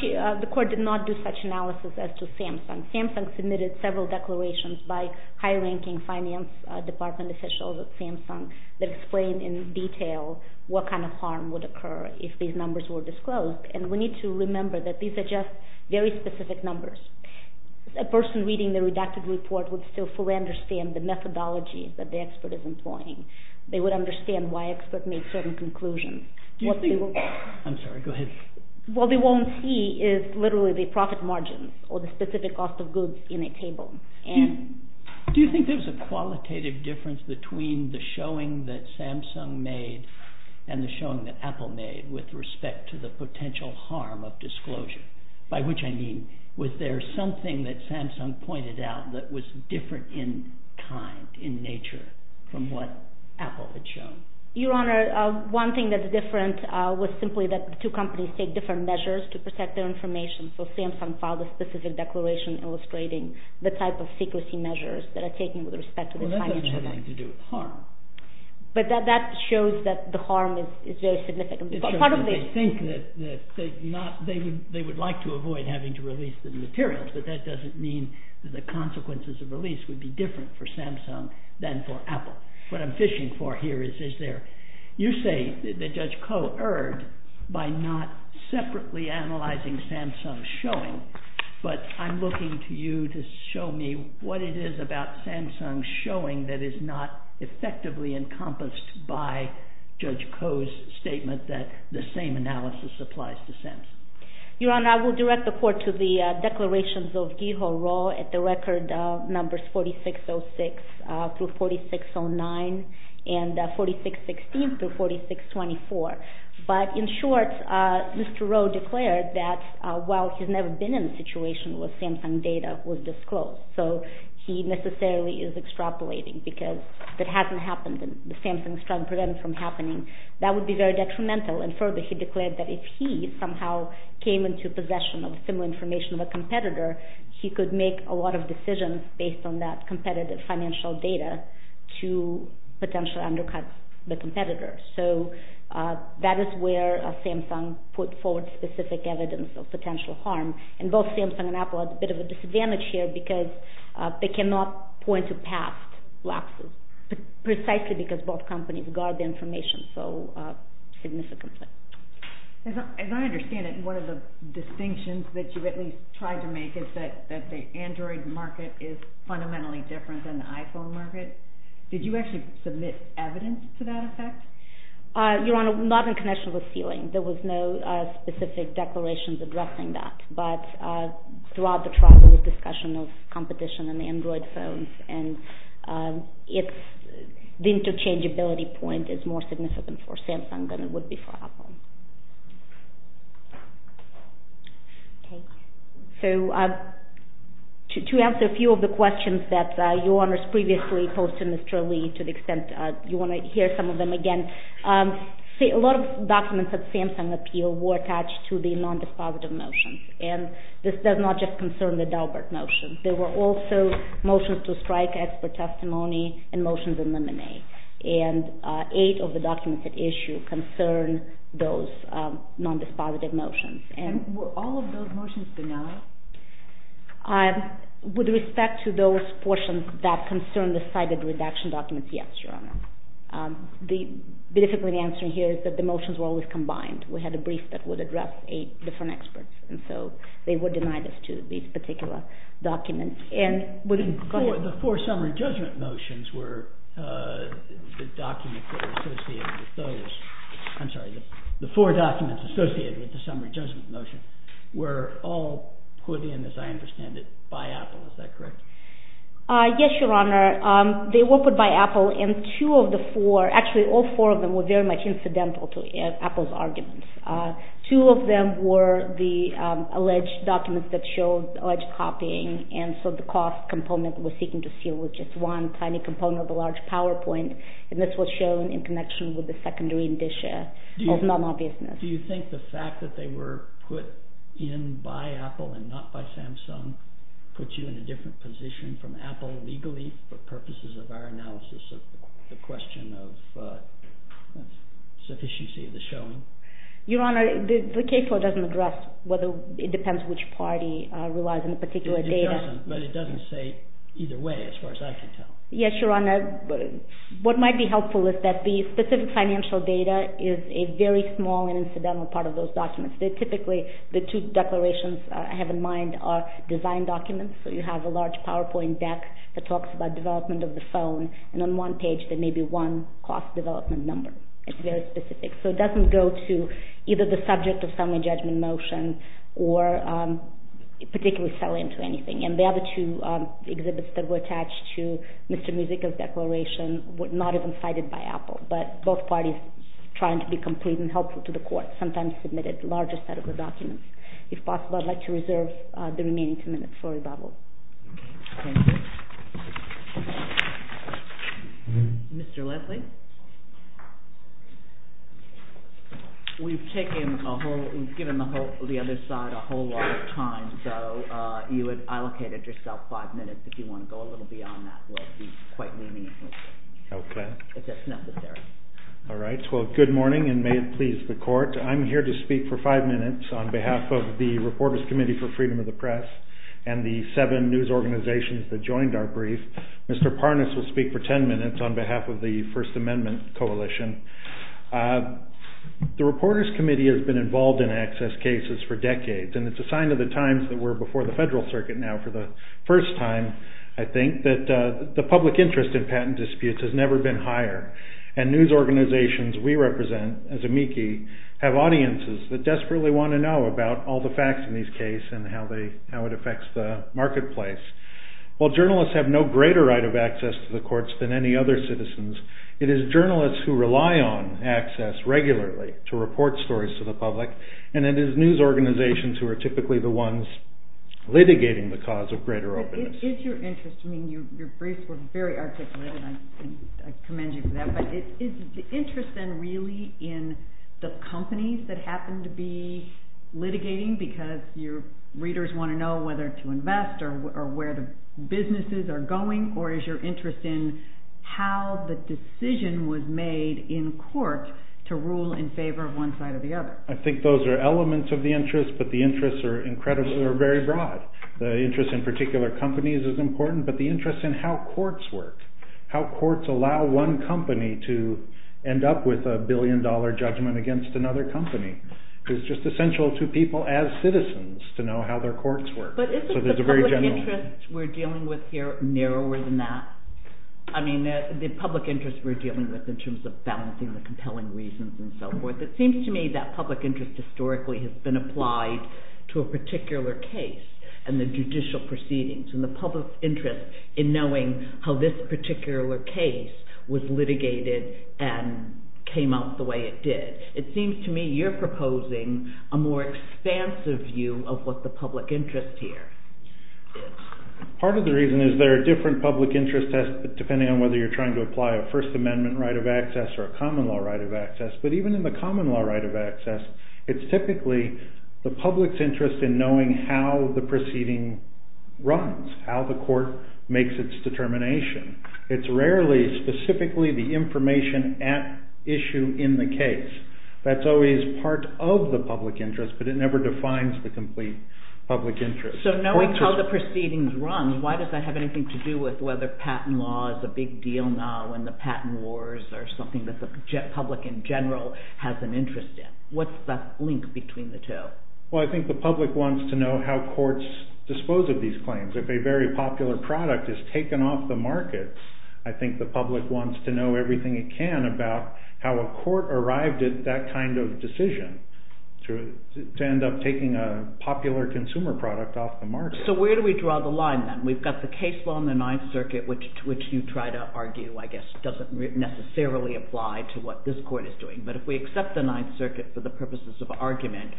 the court did not do such analysis as to SAMHSA. SAMHSA submitted several declarations by high-ranking finance department officials at SAMHSA that explain in detail what kind of harm would occur if these numbers were disclosed. And we need to remember that these are just very specific numbers. A person reading the redacted report would still fully understand the methodology that the expert is employing. They would understand why experts make certain conclusions. Do you think... I'm sorry. Go ahead. What they won't see is literally the profit margin or the specific cost of goods in a table. And... Do you think there's a qualitative difference between the showing that Samsung made and the showing that Apple made with respect to the potential harm of disclosure? By which I mean, was there something that Samsung pointed out that was different in time, in nature, from what Apple had shown? Your Honor, one thing that's different was simply that the two companies take different measures to protect their information. So Samsung filed a specific declaration illustrating the type of secrecy measures that are taken with respect to the financial... Well, that doesn't have anything to do with harm. But that shows that the harm is very significant. They think that they would like to avoid having to release the materials, but that doesn't mean that the consequences of release would be different for Samsung than for Apple. What I'm fishing for here is this. You say that Judge Koh erred by not separately analyzing Samsung's showing, but I'm looking to you to show me what it is about Samsung's showing that is not effectively encompassed by Judge Koh's statement that the same analysis applies to Samsung. Your Honor, I will direct the Court to the declarations of Giho Roh at the record numbers 4606 through 4609 and 4616 through 4624. But in short, Mr. Roh declared that while he's never been in a situation where Samsung data was disclosed, so he necessarily is extrapolating because that hasn't happened in the Samsung case. He's trying to prevent it from happening. That would be very detrimental. And further, he declared that if he somehow came into possession of similar information of a competitor, he could make a lot of decisions based on that competitive financial data to potentially undercut the competitor. So that is where Samsung put forward specific evidence of potential harm. And both Samsung and Apple have a bit of a disadvantage here because they cannot point to past lapses, precisely because both companies guard the information so significantly. As I understand it, one of the distinctions that you've at least tried to make is that the Android market is fundamentally different than the iPhone market. Did you actually submit evidence to that effect? Your Honor, not in connection with ceiling. There was no specific declarations addressing that. But throughout the trial, there was discussion of competition in the Android phones. And the interchangeability point is more significant for Samsung than it would be for Apple. So to answer a few of the questions that Your Honors previously posed to Mr. Ali, to the extent you want to hear some of them again, a lot of documents that Samsung appealed were and this does not just concern the Dalbert motions. There were also motions to strike expert testimony and motions in the M&A. And eight of the documents at issue concern those non-dispositive motions. And were all of those motions denied? With respect to those portions that concern the cited redaction documents, yes, Your Honor. Basically the answer here is that the motions were always combined. We had a brief that would address eight different experts. And so they were denied as to these particular documents. The four summary judgment motions were the documents that were associated with those. I'm sorry. The four documents associated with the summary judgment motion were all, as I understand it, by Apple. Is that correct? Yes, Your Honor. They were put by Apple. And two of the four, actually all four of them were very much incidental to Apple's arguments. Two of them were the alleged documents that showed alleged copying. And so the cost component we're seeking to see was just one tiny component of a large PowerPoint. And this was shown in connection with the secondary indicia of non-obviousness. Do you think the fact that they were put in by Apple and not by Samsung puts you in a different position from Apple legally for purposes of our analysis of the question of sufficiency of this gentleman? Your Honor, the case law doesn't address whether it depends which party relies on a particular data. But it doesn't say either way as far as I can tell. Yes, Your Honor. What might be helpful is that the specific financial data is a very small incidental part of those documents. Typically the two declarations I have in mind are design documents. So you have a large PowerPoint deck that talks about development of the phone. And on one page there may be one cost development number. It's very specific. So it doesn't go to either the subject of summary judgment motion or particularly sell-in to anything. And the other two exhibits that were attached to Mr. Muzica's declaration were not even cited by Apple. But both parties, trying to be complete and helpful to the court, sometimes submitted a larger set of the documents. If possible, I'd like to reserve the remaining two minutes for rebuttal. Thank you. Mr. Leslie? We've given the other side a whole lot of time. So you have allocated yourself five minutes if you want to go a little beyond that. It would be quite meaningful. Okay. If that's necessary. All right. Well, good morning and may it please the court. I'm here to speak for five minutes on behalf of the Reporters Committee for Freedom of the Press and the seven news organizations that joined our brief. Mr. Parnas will speak for ten minutes on behalf of the First Amendment Coalition. The Reporters Committee has been involved in access cases for decades. And it's a sign of the times that we're before the federal circuit now for the first time, I think, that the public interest in patent disputes has never been higher. And news organizations we represent, as amici, have audiences that desperately want to know about all the facts in these cases and how it affects the marketplace. While journalists have no greater right of access to the courts than any other citizens, it is journalists who rely on access regularly to report stories to the public, and it is news organizations who are typically the ones litigating the cause of greater openness. Is your interest, I mean, your brief was very articulate, and I commend you for that, but is the interest then really in the companies that happen to be litigating because your readers want to know whether to invest or where the businesses are going, or is your interest in how the decision was made in court to rule in favor of one side or the other? I think those are elements of the interest, but the interests are incredibly broad. The interest in particular companies is important, but the interest in how courts work, how courts allow one company to end up with a billion-dollar judgment against another company, is just essential to people as citizens to know how their courts work. But isn't the public interest we're dealing with here narrower than that? I mean, the public interest we're dealing with in terms of balancing the compelling reasons and so forth, it seems to me that public interest historically has been applied to a particular case and the judicial proceedings, and the public interest in knowing how this particular case was litigated and came out the way it did. It seems to me you're proposing a more expansive view of what the public interest here is. Part of the reason is there are different public interests, depending on whether you're trying to apply a First Amendment right of access or a common law right of access, but even in the common law right of access, it's typically the public's interest in knowing how the proceeding runs, how the court makes its determination. It's rarely specifically the information at issue in the case. That's always part of the public interest, but it never defines the complete public interest. So knowing how the proceedings run, why does that have anything to do with whether patent law is a big deal now and the patent wars are something that the public in general has an interest in? What's that link between the two? Well, I think the public wants to know how courts dispose of these claims. If a very popular product is taken off the market, I think the public wants to know everything it can about how a court arrived at that kind of decision to end up taking a popular consumer product off the market. So where do we draw the line, then? We've got the case law in the Ninth Circuit, which you try to argue, I guess, doesn't necessarily apply to what this court is doing, but if we accept the Ninth Circuit for the purposes of argument,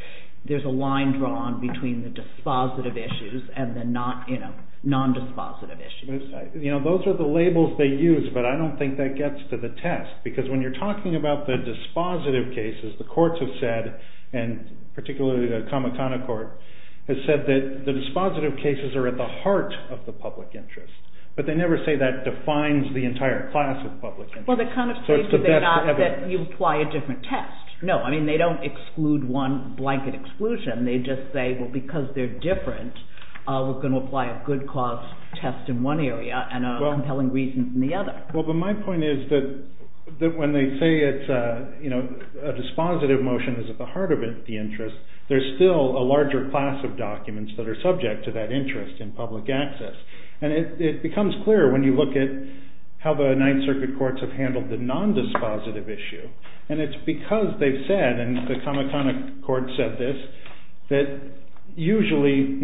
there's a line drawn between the dispositive issues and the non-dispositive issues. Those are the labels they use, but I don't think that gets to the test because when you're talking about the dispositive cases, the courts have said, and particularly the Kamehameha Court, has said that the dispositive cases are at the heart of the public interest, but they never say that defines the entire class of public interest. Well, they kind of say that you apply a different test. No, I mean, they don't exclude one blanket exclusion. They just say, well, because they're different, we're going to apply a good cause test in one area and a compelling reason in the other. Well, but my point is that when they say a dispositive motion is at the heart of the interest, there's still a larger class of documents that are subject to that interest in public access, and it becomes clear when you look at how the Ninth Circuit courts have handled the non-dispositive issue, and it's because they've said, and the Kamehameha Court said this, that usually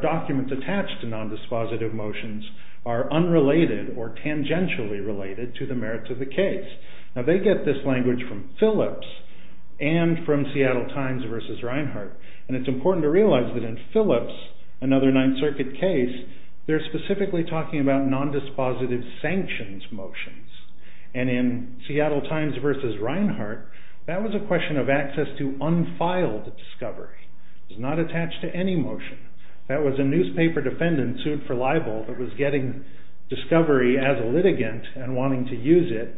documents attached to non-dispositive motions are unrelated or tangentially related to the merits of the case. Now, they get this language from Phillips and from Seattle Times versus Reinhart, and it's important to realize that in Phillips, another Ninth Circuit case, they're specifically talking about non-dispositive sanctions motions, and in Seattle Times versus Reinhart, that was a question of access to unfiled discovery. It was not attached to any motion. That was a newspaper defendant sued for libel that was getting discovery as a litigant and wanting to use it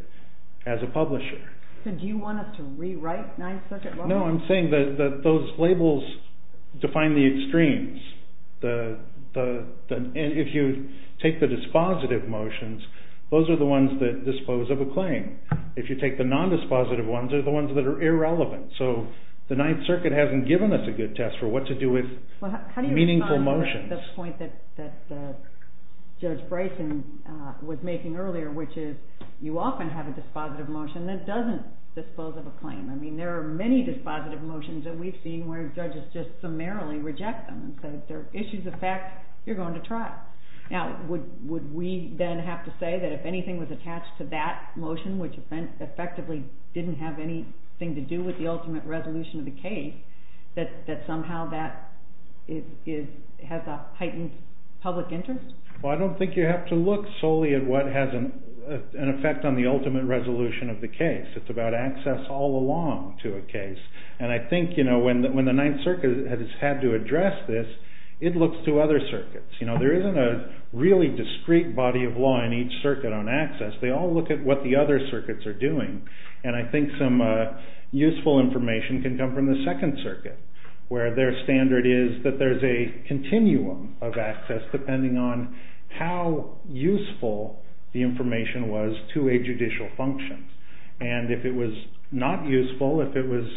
as a publisher. So do you want us to rewrite Ninth Circuit law? No, I'm saying that those labels define the extremes. If you take the dispositive motions, those are the ones that dispose of a claim. If you take the non-dispositive ones, they're the ones that are irrelevant. So the Ninth Circuit hasn't given us a good test for what to do with meaningful motions. Well, how do you respond to the point that Judge Bryson was making earlier, which is you often have a dispositive motion that doesn't dispose of a claim. I mean, there are many dispositive motions that we've seen where judges just summarily reject them and say if there are issues of fact, you're going to try. Now, would we then have to say that if anything was attached to that motion, which effectively didn't have anything to do with the ultimate resolution of the case, that somehow that has a heightened public interest? Well, I don't think you have to look solely at what has an effect on the ultimate resolution of the case. It's about access all along to a case. And I think when the Ninth Circuit has had to address this, it looks to other circuits. There isn't a really discrete body of law in each circuit on access. They all look at what the other circuits are doing, and I think some useful information can come from the Second Circuit, where their standard is that there's a continuum of access depending on how useful the information was to a judicial function. And if it was not useful, if it was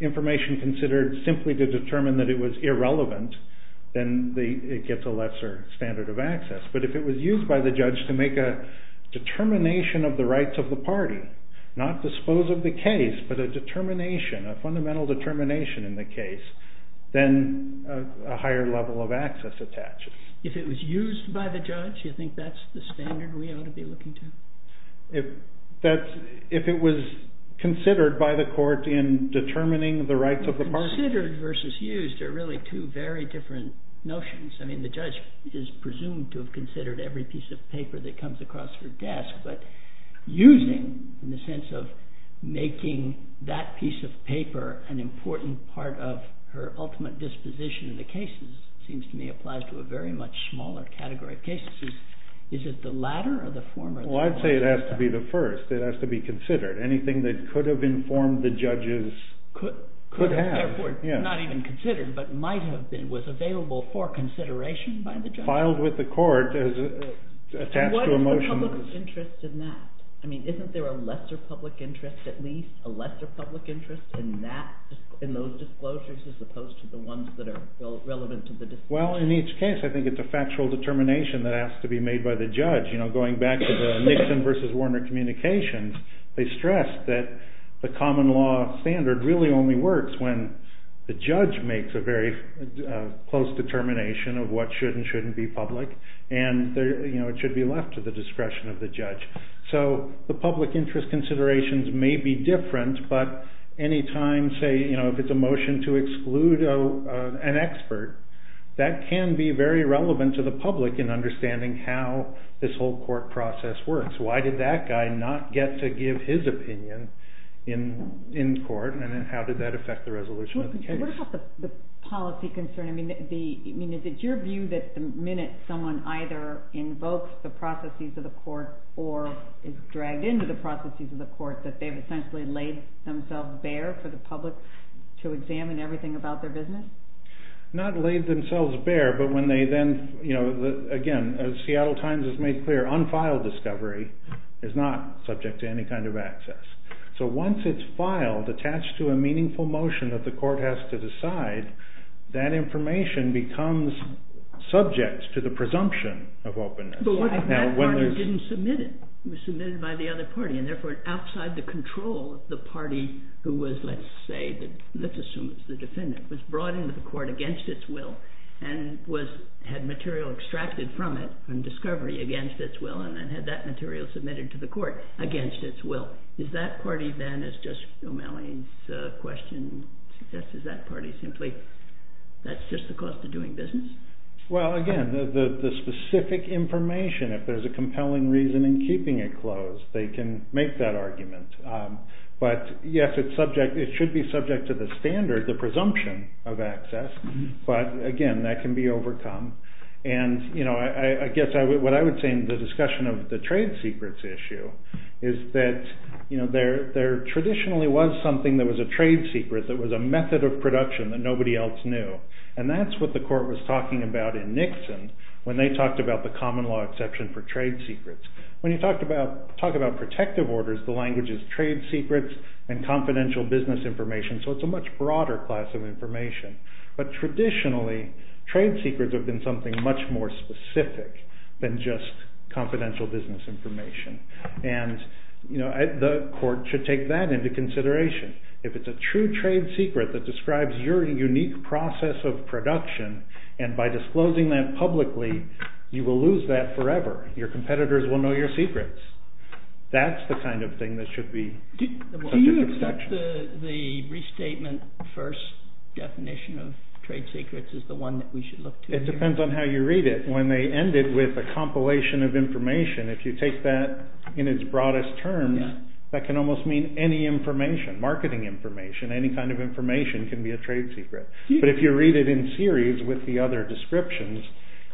information considered simply to determine that it was irrelevant, then it gets a lesser standard of access. But if it was used by the judge to make a determination of the rights of the party, not dispose of the case, but a determination, a fundamental determination in the case, then a higher level of access attaches. If it was used by the judge, you think that's the standard we ought to be looking to? If it was considered by the court in determining the rights of the party. Considered versus used are really two very different notions. I mean, the judge is presumed to have considered every piece of paper that comes across her desk, but using in the sense of making that piece of paper an important part of her ultimate disposition in the cases seems to me applies to a very much smaller category of cases. Is it the latter or the former? Well, I'd say it has to be the first. It has to be considered. Anything that could have informed the judges could have. Not even considered, but might have been, was available for consideration by the judge. Filed with the court as attached to a motion. What is the public interest in that? I mean, isn't there a lesser public interest at least, a lesser public interest in those disclosures as opposed to the ones that are relevant to the disposition? Well, in each case, I think it's a factual determination that has to be made by the judge. You know, going back to the Nixon versus Warner communications, they stressed that the common law standard really only works when the judge makes a very close determination of what should and shouldn't be public, and, you know, it should be left to the discretion of the judge. So the public interest considerations may be different, but any time, say, you know, if it's a motion to exclude an expert, that can be very relevant to the public in understanding how this whole court process works. Why did that guy not get to give his opinion in court, and then how did that affect the resolution of the case? What about the policy concern? I mean, is it your view that the minute someone either invokes the processes of the court or is dragged into the processes of the court, that they've essentially laid themselves bare for the public to examine everything about their business? Not laid themselves bare, but when they then, you know, again, as Seattle Times has made clear, unfiled discovery is not subject to any kind of access. So once it's filed, attached to a meaningful motion that the court has to decide, that information becomes subject to the presumption of openness. But what if that party didn't submit it? It was submitted by the other party, and therefore outside the control, the party who was, let's say, let's assume it's the defendant, was brought into the court against its will and had material extracted from it, from discovery against its will, and then had that material submitted to the court against its will. Is that party then, as just O'Malley's question suggests, is that party simply, that's just the cost of doing business? Well, again, the specific information, if there's a compelling reason in keeping it closed, they can make that argument. But, yes, it should be subject to the standard, the presumption of access. But, again, that can be overcome. And, you know, I guess what I would say in the discussion of the trade secrets issue is that there traditionally was something that was a trade secret, that was a method of production that nobody else knew. And that's what the court was talking about in Nixon when they talked about the common law exception for trade secrets. When you talk about protective orders, the language is trade secrets and confidential business information, so it's a much broader class of information. But traditionally, trade secrets have been something much more specific than just confidential business information. And, you know, the court should take that into consideration. If it's a true trade secret that describes your unique process of production, and by disclosing that publicly, you will lose that forever. Your competitors will know your secrets. That's the kind of thing that should be... Do you accept the restatement first definition of trade secrets as the one that we should look to? It depends on how you read it. When they end it with a compilation of information, if you take that in its broadest terms, that can almost mean any information, marketing information, any kind of information can be a trade secret. But if you read it in series with the other descriptions,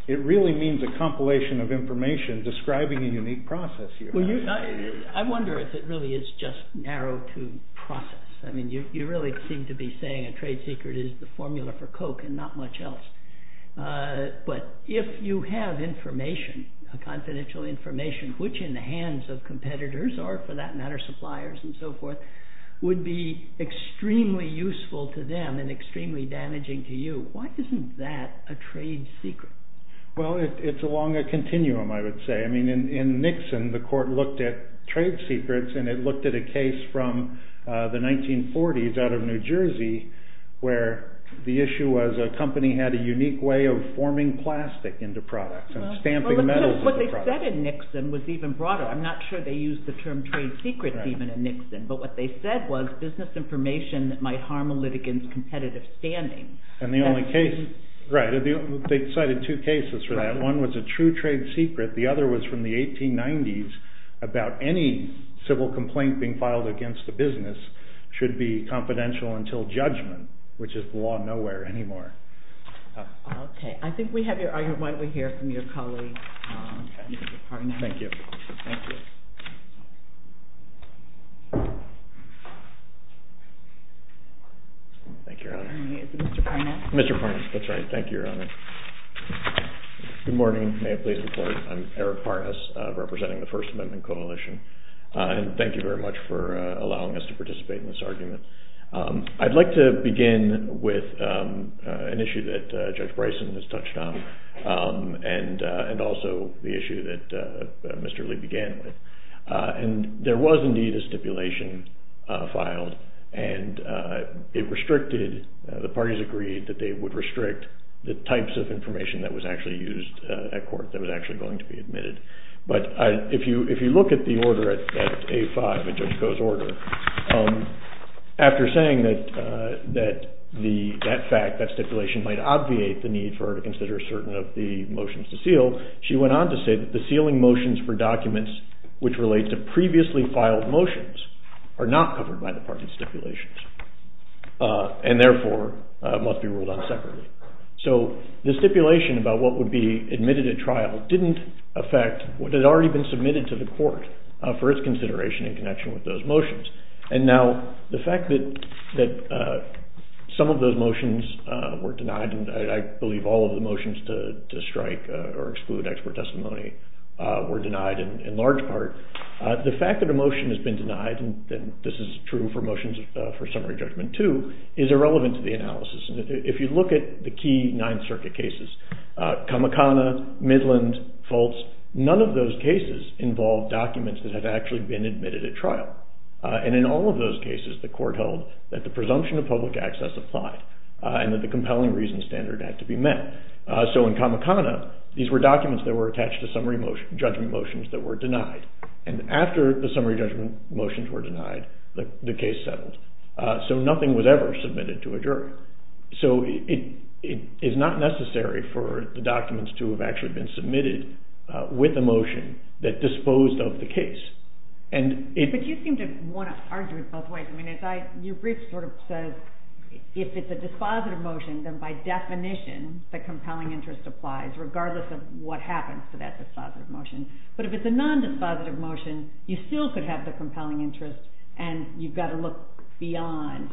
it really means a compilation of information describing a unique process. I wonder if it really is just narrow to process. I mean, you really seem to be saying a trade secret is the formula for Coke and not much else. But if you have information, confidential information, which in the hands of competitors or, for that matter, suppliers and so forth, would be extremely useful to them and extremely damaging to you, why isn't that a trade secret? Well, it's along a continuum, I would say. I mean, in Nixon, the court looked at trade secrets and it looked at a case from the 1940s out of New Jersey where the issue was a company had a unique way of forming plastic into products and stamping metals into products. What they said in Nixon was even broader. I'm not sure they used the term trade secret even in Nixon, but what they said was business information might harm a litigant's competitive standing. And the only case, right, they cited two cases for that. One was a true trade secret. The other was from the 1890s about any civil complaint being filed against the business should be confidential until judgment, which is the law of nowhere anymore. Okay. I think we have your argument here from your colleague. Thank you. Thank you. Thank you, Your Honor. Mr. Parnas. Mr. Parnas. That's right. Thank you, Your Honor. Good morning. May I please report? I'm Eric Parnas, representing the First Amendment Coalition, and thank you very much for allowing us to participate in this argument. I'd like to begin with an issue that Judge Bryson has touched on and also the issue that Mr. Lee began with. And there was indeed a stipulation filed, and it restricted, the parties agreed that they would restrict the types of information that was actually used at court that was actually going to be admitted. But if you look at the order at A5, the judge goes order, after saying that that fact, that stipulation, might obviate the need for her to consider certain of the motions to seal, so she went on to say that the sealing motions for documents which relate to previously filed motions are not covered by the parties' stipulations and therefore must be ruled on separately. So the stipulation about what would be admitted at trial didn't affect what had already been submitted to the court for its consideration in connection with those motions. And now the fact that some of those motions were denied, and I believe all of the motions to strike or exclude expert testimony were denied in large part, the fact that a motion has been denied, and this is true for motions for summary judgment too, is irrelevant to the analysis. If you look at the key Ninth Circuit cases, Kamikana, Midland, Fultz, none of those cases involved documents that have actually been admitted at trial. And in all of those cases, the court held that the presumption of public access applied and that the compelling reasons standard had to be met. So in Kamikana, these were documents that were attached to summary judgment motions that were denied. And after the summary judgment motions were denied, the case settled. So nothing was ever submitted to a jury. So it is not necessary for the documents to have actually been submitted with a motion that disposed of the case. But you seem to want to argue, your brief sort of says if it's a dispositive motion, then by definition the compelling interest applies regardless of what happens to that dispositive motion. But if it's a non-dispositive motion, you still could have the compelling interest and you've got to look beyond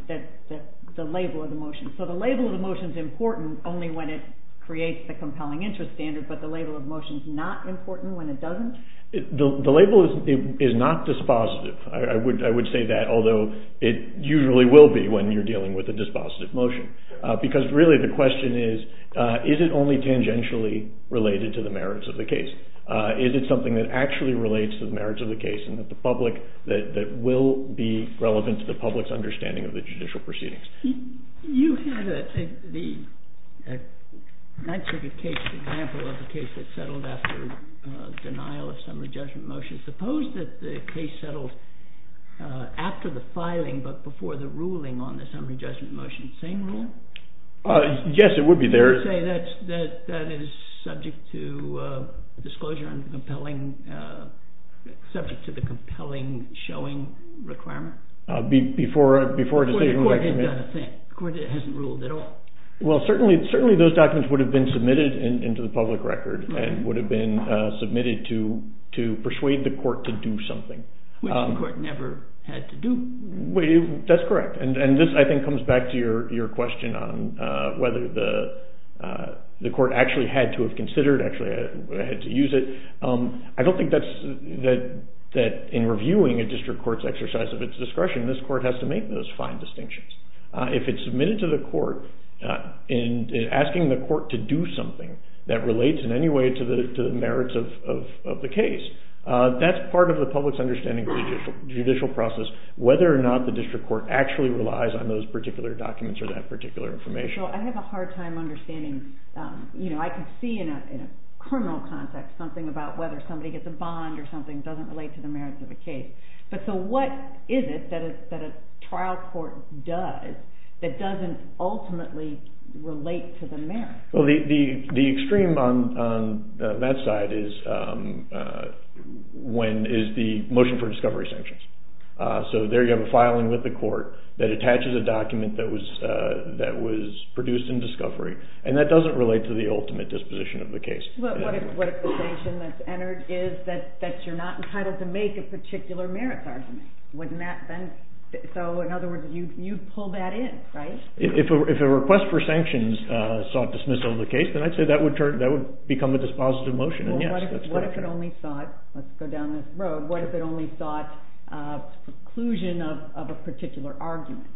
the label of the motion. So the label of the motion is important only when it creates the compelling interest standard, but the label of the motion is not important when it doesn't? The label is not dispositive. I would say that, although it usually will be when you're dealing with a dispositive motion. Because really the question is, is it only tangentially related to the merits of the case? Is it something that actually relates to the merits of the case and that will be relevant to the public's understanding of the judicial proceedings? You have the... I'm actually going to take the example of the case that settled after denial of summary judgment motions. Suppose that the case settled after the filing but before the ruling on the summary judgment motion. Same rule? Yes, it would be there. That is subject to disclosure and subject to the compelling showing requirement? Before... The court hasn't ruled at all? Well, certainly those documents would have been submitted into the public record and would have been submitted to persuade the court to do something. Which the court never had to do. That's correct. And this, I think, comes back to your question on whether the court actually had to have considered, actually had to use it. I don't think that in reviewing a district court's exercise of its discretion, this court has to make those fine distinctions. If it's submitted to the court and asking the court to do something that relates in any way to the merits of the case, that's part of the public's understanding of the judicial process, whether or not the district court actually relies on those particular documents or that particular information. Well, I have a hard time understanding... You know, I can see in a criminal context something about whether somebody gets a bond or something doesn't relate to the merits of the case. But so what is it that a trial court does that doesn't ultimately relate to the merits? Well, the extreme on that side is the motion for discovery sanctions. So there you have a filing with the court that attaches a document that was produced in discovery and that doesn't relate to the ultimate disposition of the case. What if the sanction that's entered is that you're not entitled to make a particular merits argument? Wouldn't that then... So, in other words, you'd pull that in, right? If a request for sanctions sought dismissal of the case, then I'd say that would become a dispositive motion. What if it only sought, let's go down this road, what if it only sought a preclusion of a particular argument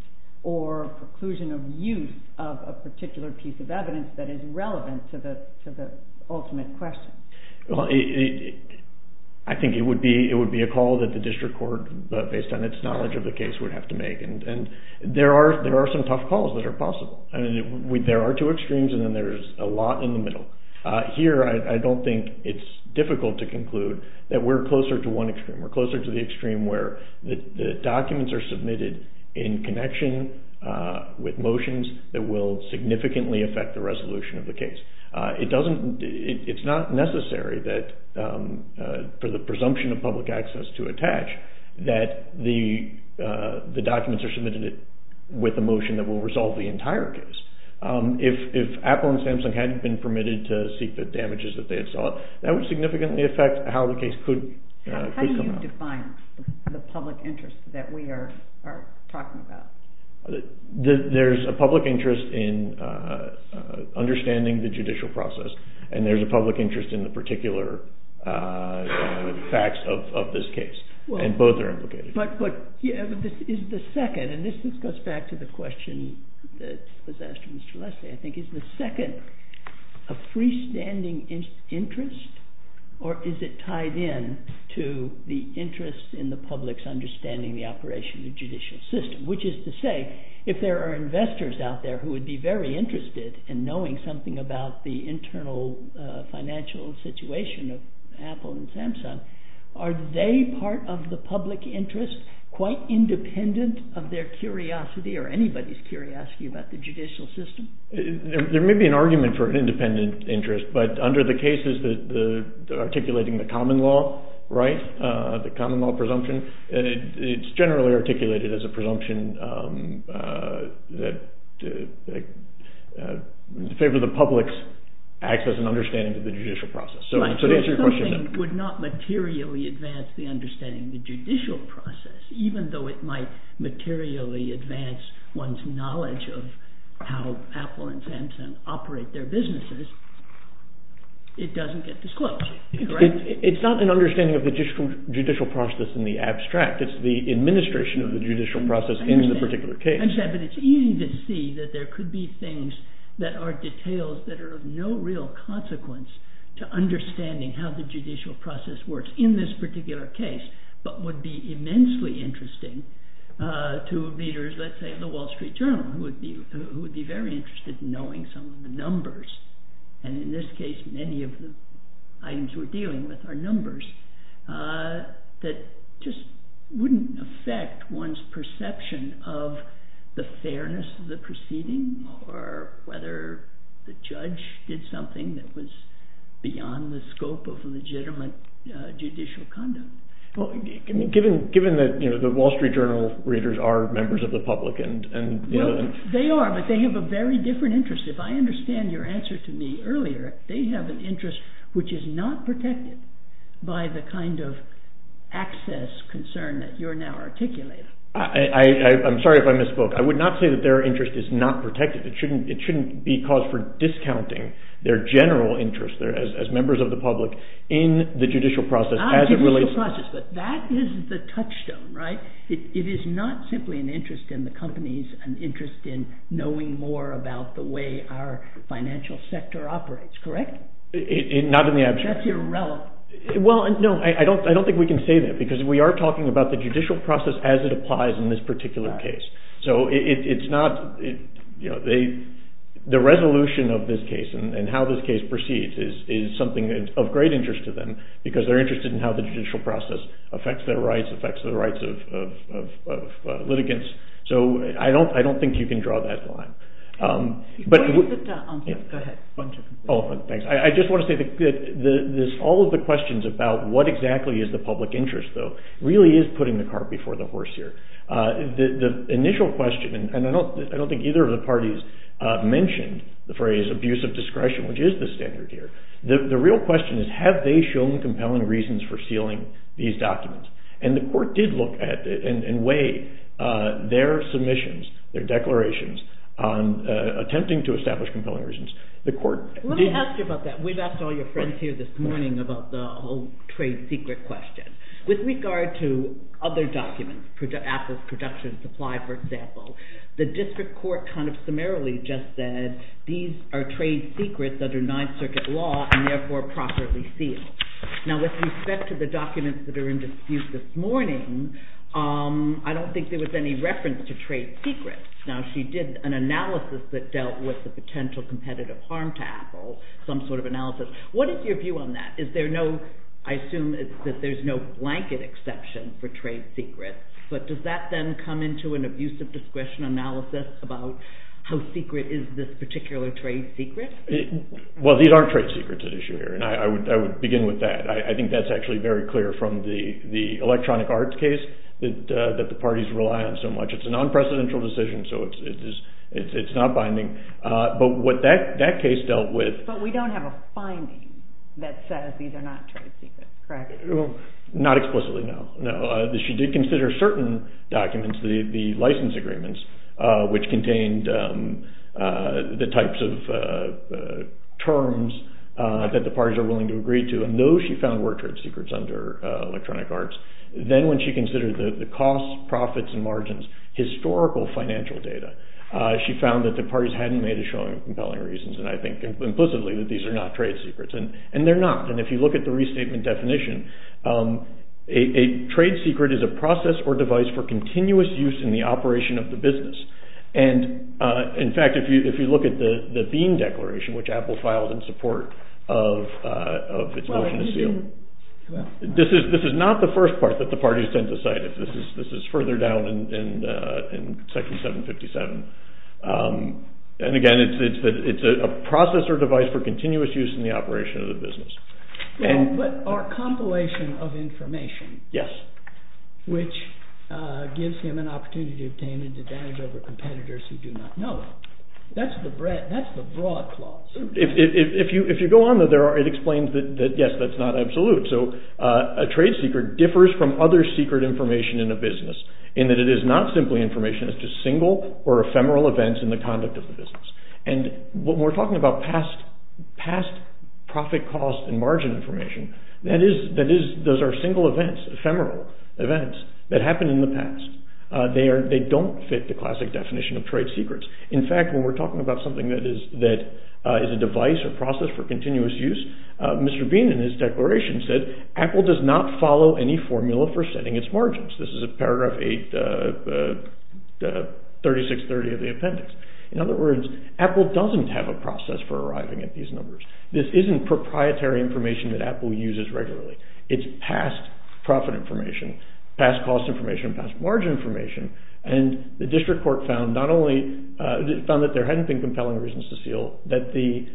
or preclusion of use of a particular piece of evidence that is relevant to the ultimate question? Well, I think it would be a call that the district court, based on its knowledge of the case, would have to make. And there are some tough calls that are possible. There are two extremes and then there's a lot in the middle. Here, I don't think it's difficult to conclude that we're closer to one extreme. We're closer to the extreme where the documents are submitted in connection with motions that will significantly affect the resolution of the case. It's not necessary for the presumption of public access to attach that the documents are submitted with a motion that will resolve the entire case. If Apple and Samsung hadn't been permitted to seek the damages that they had sought, that would significantly affect how the case could... How do you define the public interest that we are talking about? There's a public interest in understanding the judicial process and there's a public interest in the particular facts of this case. And both are implicated. But is the second, and this goes back to the question that was asked from Mr. Lester, I think, is the second a freestanding interest or is it tied in to the interest in the public's understanding of the operation of the judicial system? Which is to say, if there are investors out there who would be very interested in knowing something about the internal financial situation of Apple and Samsung, are they part of the public interest, quite independent of their curiosity or anybody's curiosity about the judicial system? There may be an argument for an independent interest, but under the cases articulating the common law right, the common law presumption, it's generally articulated as a presumption that in favor of the public's access and understanding of the judicial process. If something would not materially advance the understanding of the judicial process, even though it might materially advance one's knowledge of how Apple and Samsung operate their businesses, it doesn't get disclosed. It's not an understanding of the judicial process in the abstract. It's the administration of the judicial process in the particular case. But it's easy to see that there could be things that are details that are of no real consequence to understanding how the judicial process works in this particular case, but would be immensely interesting to leaders, let's say the Wall Street Journal, who would be very interested in knowing some of the numbers. And in this case, many of the items we're dealing with are numbers that just wouldn't affect one's perception of the fairness of the proceeding or whether the judge did something that was beyond the scope of legitimate judicial conduct. Given that the Wall Street Journal readers are members of the public... They are, but they have a very different interest. If I understand your answer to me earlier, they have an interest which is not protected by the kind of access concern that you're now articulating. I'm sorry if I misspoke. I would not say that their interest is not protected. It shouldn't be called for discounting their general interest as members of the public in the judicial process as it relates... Ah, judicial process. But that is the touchstone, right? It is not simply an interest in the companies, an interest in knowing more about the way our financial sector operates, correct? Not in the abstract. That's irrelevant. Well, no, I don't think we can say that because we are talking about the judicial process as it applies in this particular case. So it's not... The resolution of this case and how this case proceeds is something of great interest to them because they're interested in how the judicial process affects their rights, affects the rights of litigants. So I don't think you can draw that line. But... Go ahead. Oh, thanks. I just want to say that all of the questions about what exactly is the public interest, though, really is putting the cart before the horse here. The initial question... And I don't think either of the parties mentioned the phrase abusive discretion, which is the standard here. The real question is, have they shown compelling reasons for sealing these documents? And the court did look at it and weigh their submissions, their declarations, attempting to establish compelling reasons. The court... Let me ask you about that. We've asked all your friends here this morning about the whole trade secret question. With regard to other documents, Apple's production and supply, for example, the district court kind of summarily just said these are trade secrets under Ninth Circuit law and therefore properly sealed. Now, with respect to the documents that are in dispute this morning, I don't think there was any reference to trade secrets. Now, she did an analysis that dealt with the potential competitive harm to Apple, some sort of analysis. What is your view on that? Is there no... blanket exception for trade secrets? But does that then come into an abusive discretion analysis about how secret is this particular trade secret? Well, these aren't trade secrets at issue here, and I would begin with that. I think that's actually very clear from the electronic arts case that the parties rely on so much. It's a non-precedential decision, so it's not binding. But what that case dealt with... But we don't have a finding that says these are not trade secrets, correct? Not explicitly, no. She did consider certain documents, the license agreements, which contained the types of terms that the parties are willing to agree to, and those, she found, were trade secrets under electronic arts. Then when she considered the cost, profits, and margins, historical financial data, she found that the parties hadn't made a showing of compelling reasons, and I think implicitly that these are not trade secrets, and they're not. And if you look at the restatement definition, a trade secret is a process or device for continuous use in the operation of the business. And, in fact, if you look at the Bean Declaration, which Apple filed in support of its motion to seal... Well, what did they do? This is not the first part that the parties sent aside. This is further down in Section 757. And, again, it's a process or device for continuous use in the operation of the business. But our compilation of information... Yes. ...which gives him an opportunity to obtain advantage over competitors who do not know him. That's the broad clause. If you go on, it explains that, yes, that's not absolute. So a trade secret differs from other secret information in a business in that it is not simply information. It's just single or ephemeral events in the conduct of the business. And when we're talking about past profit, cost, and margin information, those are single events, ephemeral events, that happened in the past. They don't fit the classic definition of trade secrets. In fact, when we're talking about something that is a device or process for continuous use, Mr. Bean, in his declaration, said, Apple does not follow any formula for setting its margins. This is in paragraph 8, 3630 of the appendix. In other words, Apple doesn't have a process for arriving at these numbers. This isn't proprietary information that Apple uses regularly. It's past profit information, past cost information, past margin information. And the district court found not only... found that there hadn't been compelling reasons to steal, that the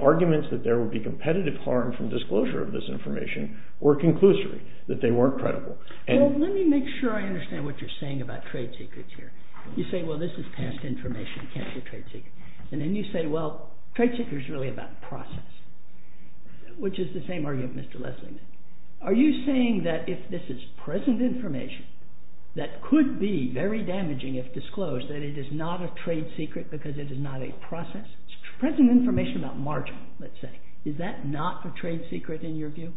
arguments that there would be competitive harm from disclosure of this information were conclusory, that they weren't credible. Well, let me make sure I understand what you're saying about trade secrets here. You say, well, this is past information. You can't say trade secret. And then you say, well, trade secret is really about process, which is the same argument Mr. Leslie made. Are you saying that if this is present information that could be very damaging if disclosed, that it is not a trade secret because it is not a process? It's present information about margin, let's say. Is that not a trade secret in your view?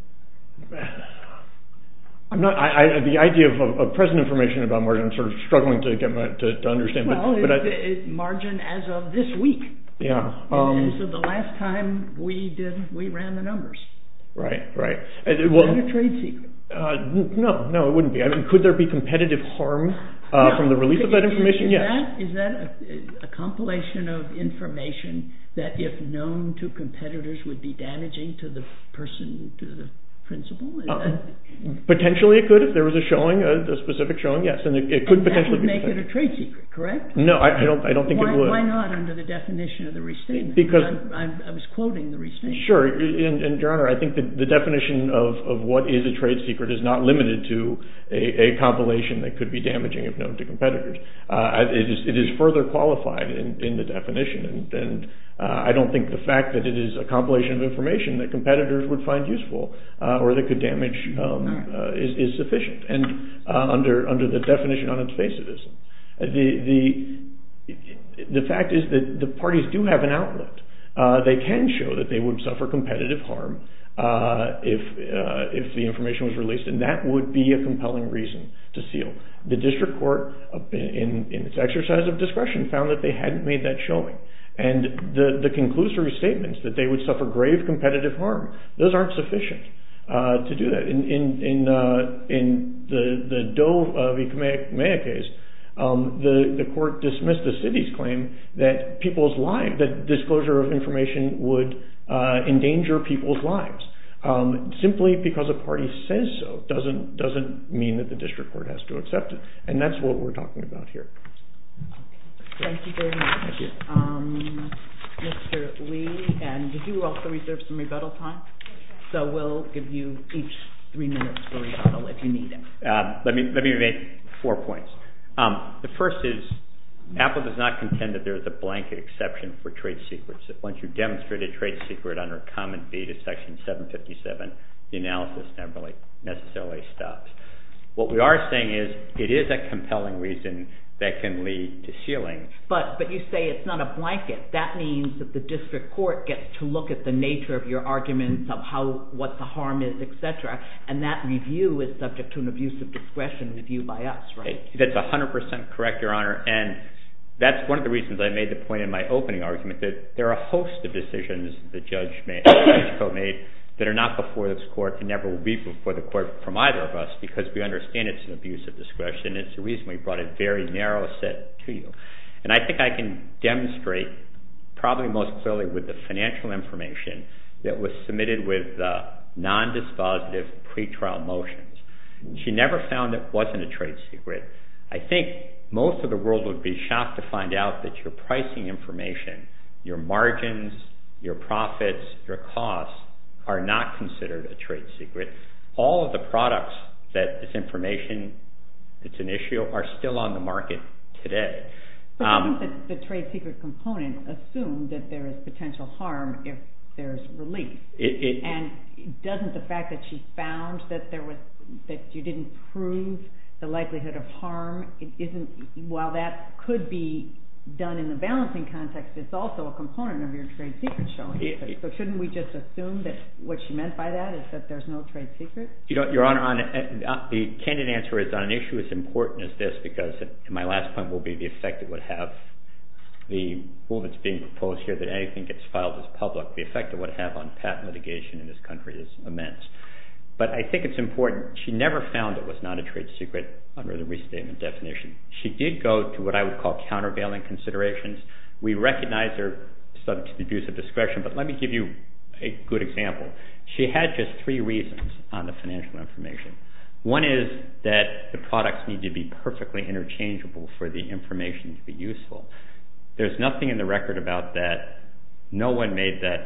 I'm not... The idea of present information about margin, I'm struggling to get my head to understand. Well, it's margin as of this week. And so the last time we ran the numbers. Right, right. It's not a trade secret. No, no, it wouldn't be. Could there be competitive harm from the release of that information? Yes. Is that a compilation of information that if known to competitors would be damaging to the person, to the principal? Potentially it could if there was a showing, a specific showing, yes. And that would make it a trade secret, correct? No, I don't think it would. Why not under the definition of the restatement? I was quoting the restatement. Sure. And, Your Honor, I think the definition of what is a trade secret is not limited to a compilation that could be damaging if known to competitors. It is further qualified in the definition. And I don't think the fact that it is a compilation of information that competitors would find useful or that could damage is sufficient. And under the definition on obsessivism, the fact is that the parties do have an outlet. They can show that they would suffer competitive harm if the information was released. And that would be a compelling reason to seal. The district court, in its exercise of discretion, found that they hadn't made that showing. And the conclusory statements that they would suffer grave competitive harm, those aren't sufficient to do that. In the Doe v. Kamehameha case, the court dismissed the city's claim that disclosure of information would endanger people's lives. Simply because a party says so doesn't mean that the district court has to accept it. And that's what we're talking about here. Thank you very much, Mr. Lee. And you also reserved some rebuttal time, so we'll give you each three minutes for rebuttal, if you need it. Let me make four points. The first is, Apple does not contend that there's a blanket exception for trade secrets. Once you've demonstrated a trade secret under a common deed of Section 757, the analysis never necessarily stops. What we are saying is, it is a compelling reason that can lead to sealing. But you say it's not a blanket. That means that the district court gets to look at the nature of your arguments, of what the harm is, etc. And that review is subject to an abuse of discretion review by us, right? That's 100% correct, Your Honor. And that's one of the reasons I made the point in my opening argument, that there are a host of decisions the judge may have made that are not before this court and never will be before the court from either of us, because we understand it's an abuse of discretion. It's the reason we brought a very narrow set to you. And I think I can demonstrate, probably most clearly, with the financial information that was submitted with non-dispositive pretrial motions. She never found it wasn't a trade secret. I think most of the world would be shocked to find out that your pricing information, your margins, your profits, your costs, are not considered a trade secret. All of the products, that this information, it's an issue, are still on the market today. But wouldn't the trade secret component assume that there is potential harm if there is relief? And doesn't the fact that she found that you didn't prove the likelihood of harm, while that could be done in the balancing context, it's also a component of your trade secret showing. So shouldn't we just assume that what she meant by that is that there's no trade secret? Your Honor, the candid answer is on an issue as important as this, because my last point will be the effect it would have, the rule that's being proposed here, that anything gets filed as public, the effect it would have on patent litigation in this country is immense. But I think it's important. She never found it was not a trade secret under the restatement definition. She did go to what I would call countervailing considerations. We recognize there's some abusive discretion, but let me give you a good example. She had just three reasons on the financial information. One is that the products need to be perfectly interchangeable for the information to be useful. There's nothing in the record about that. No one made that.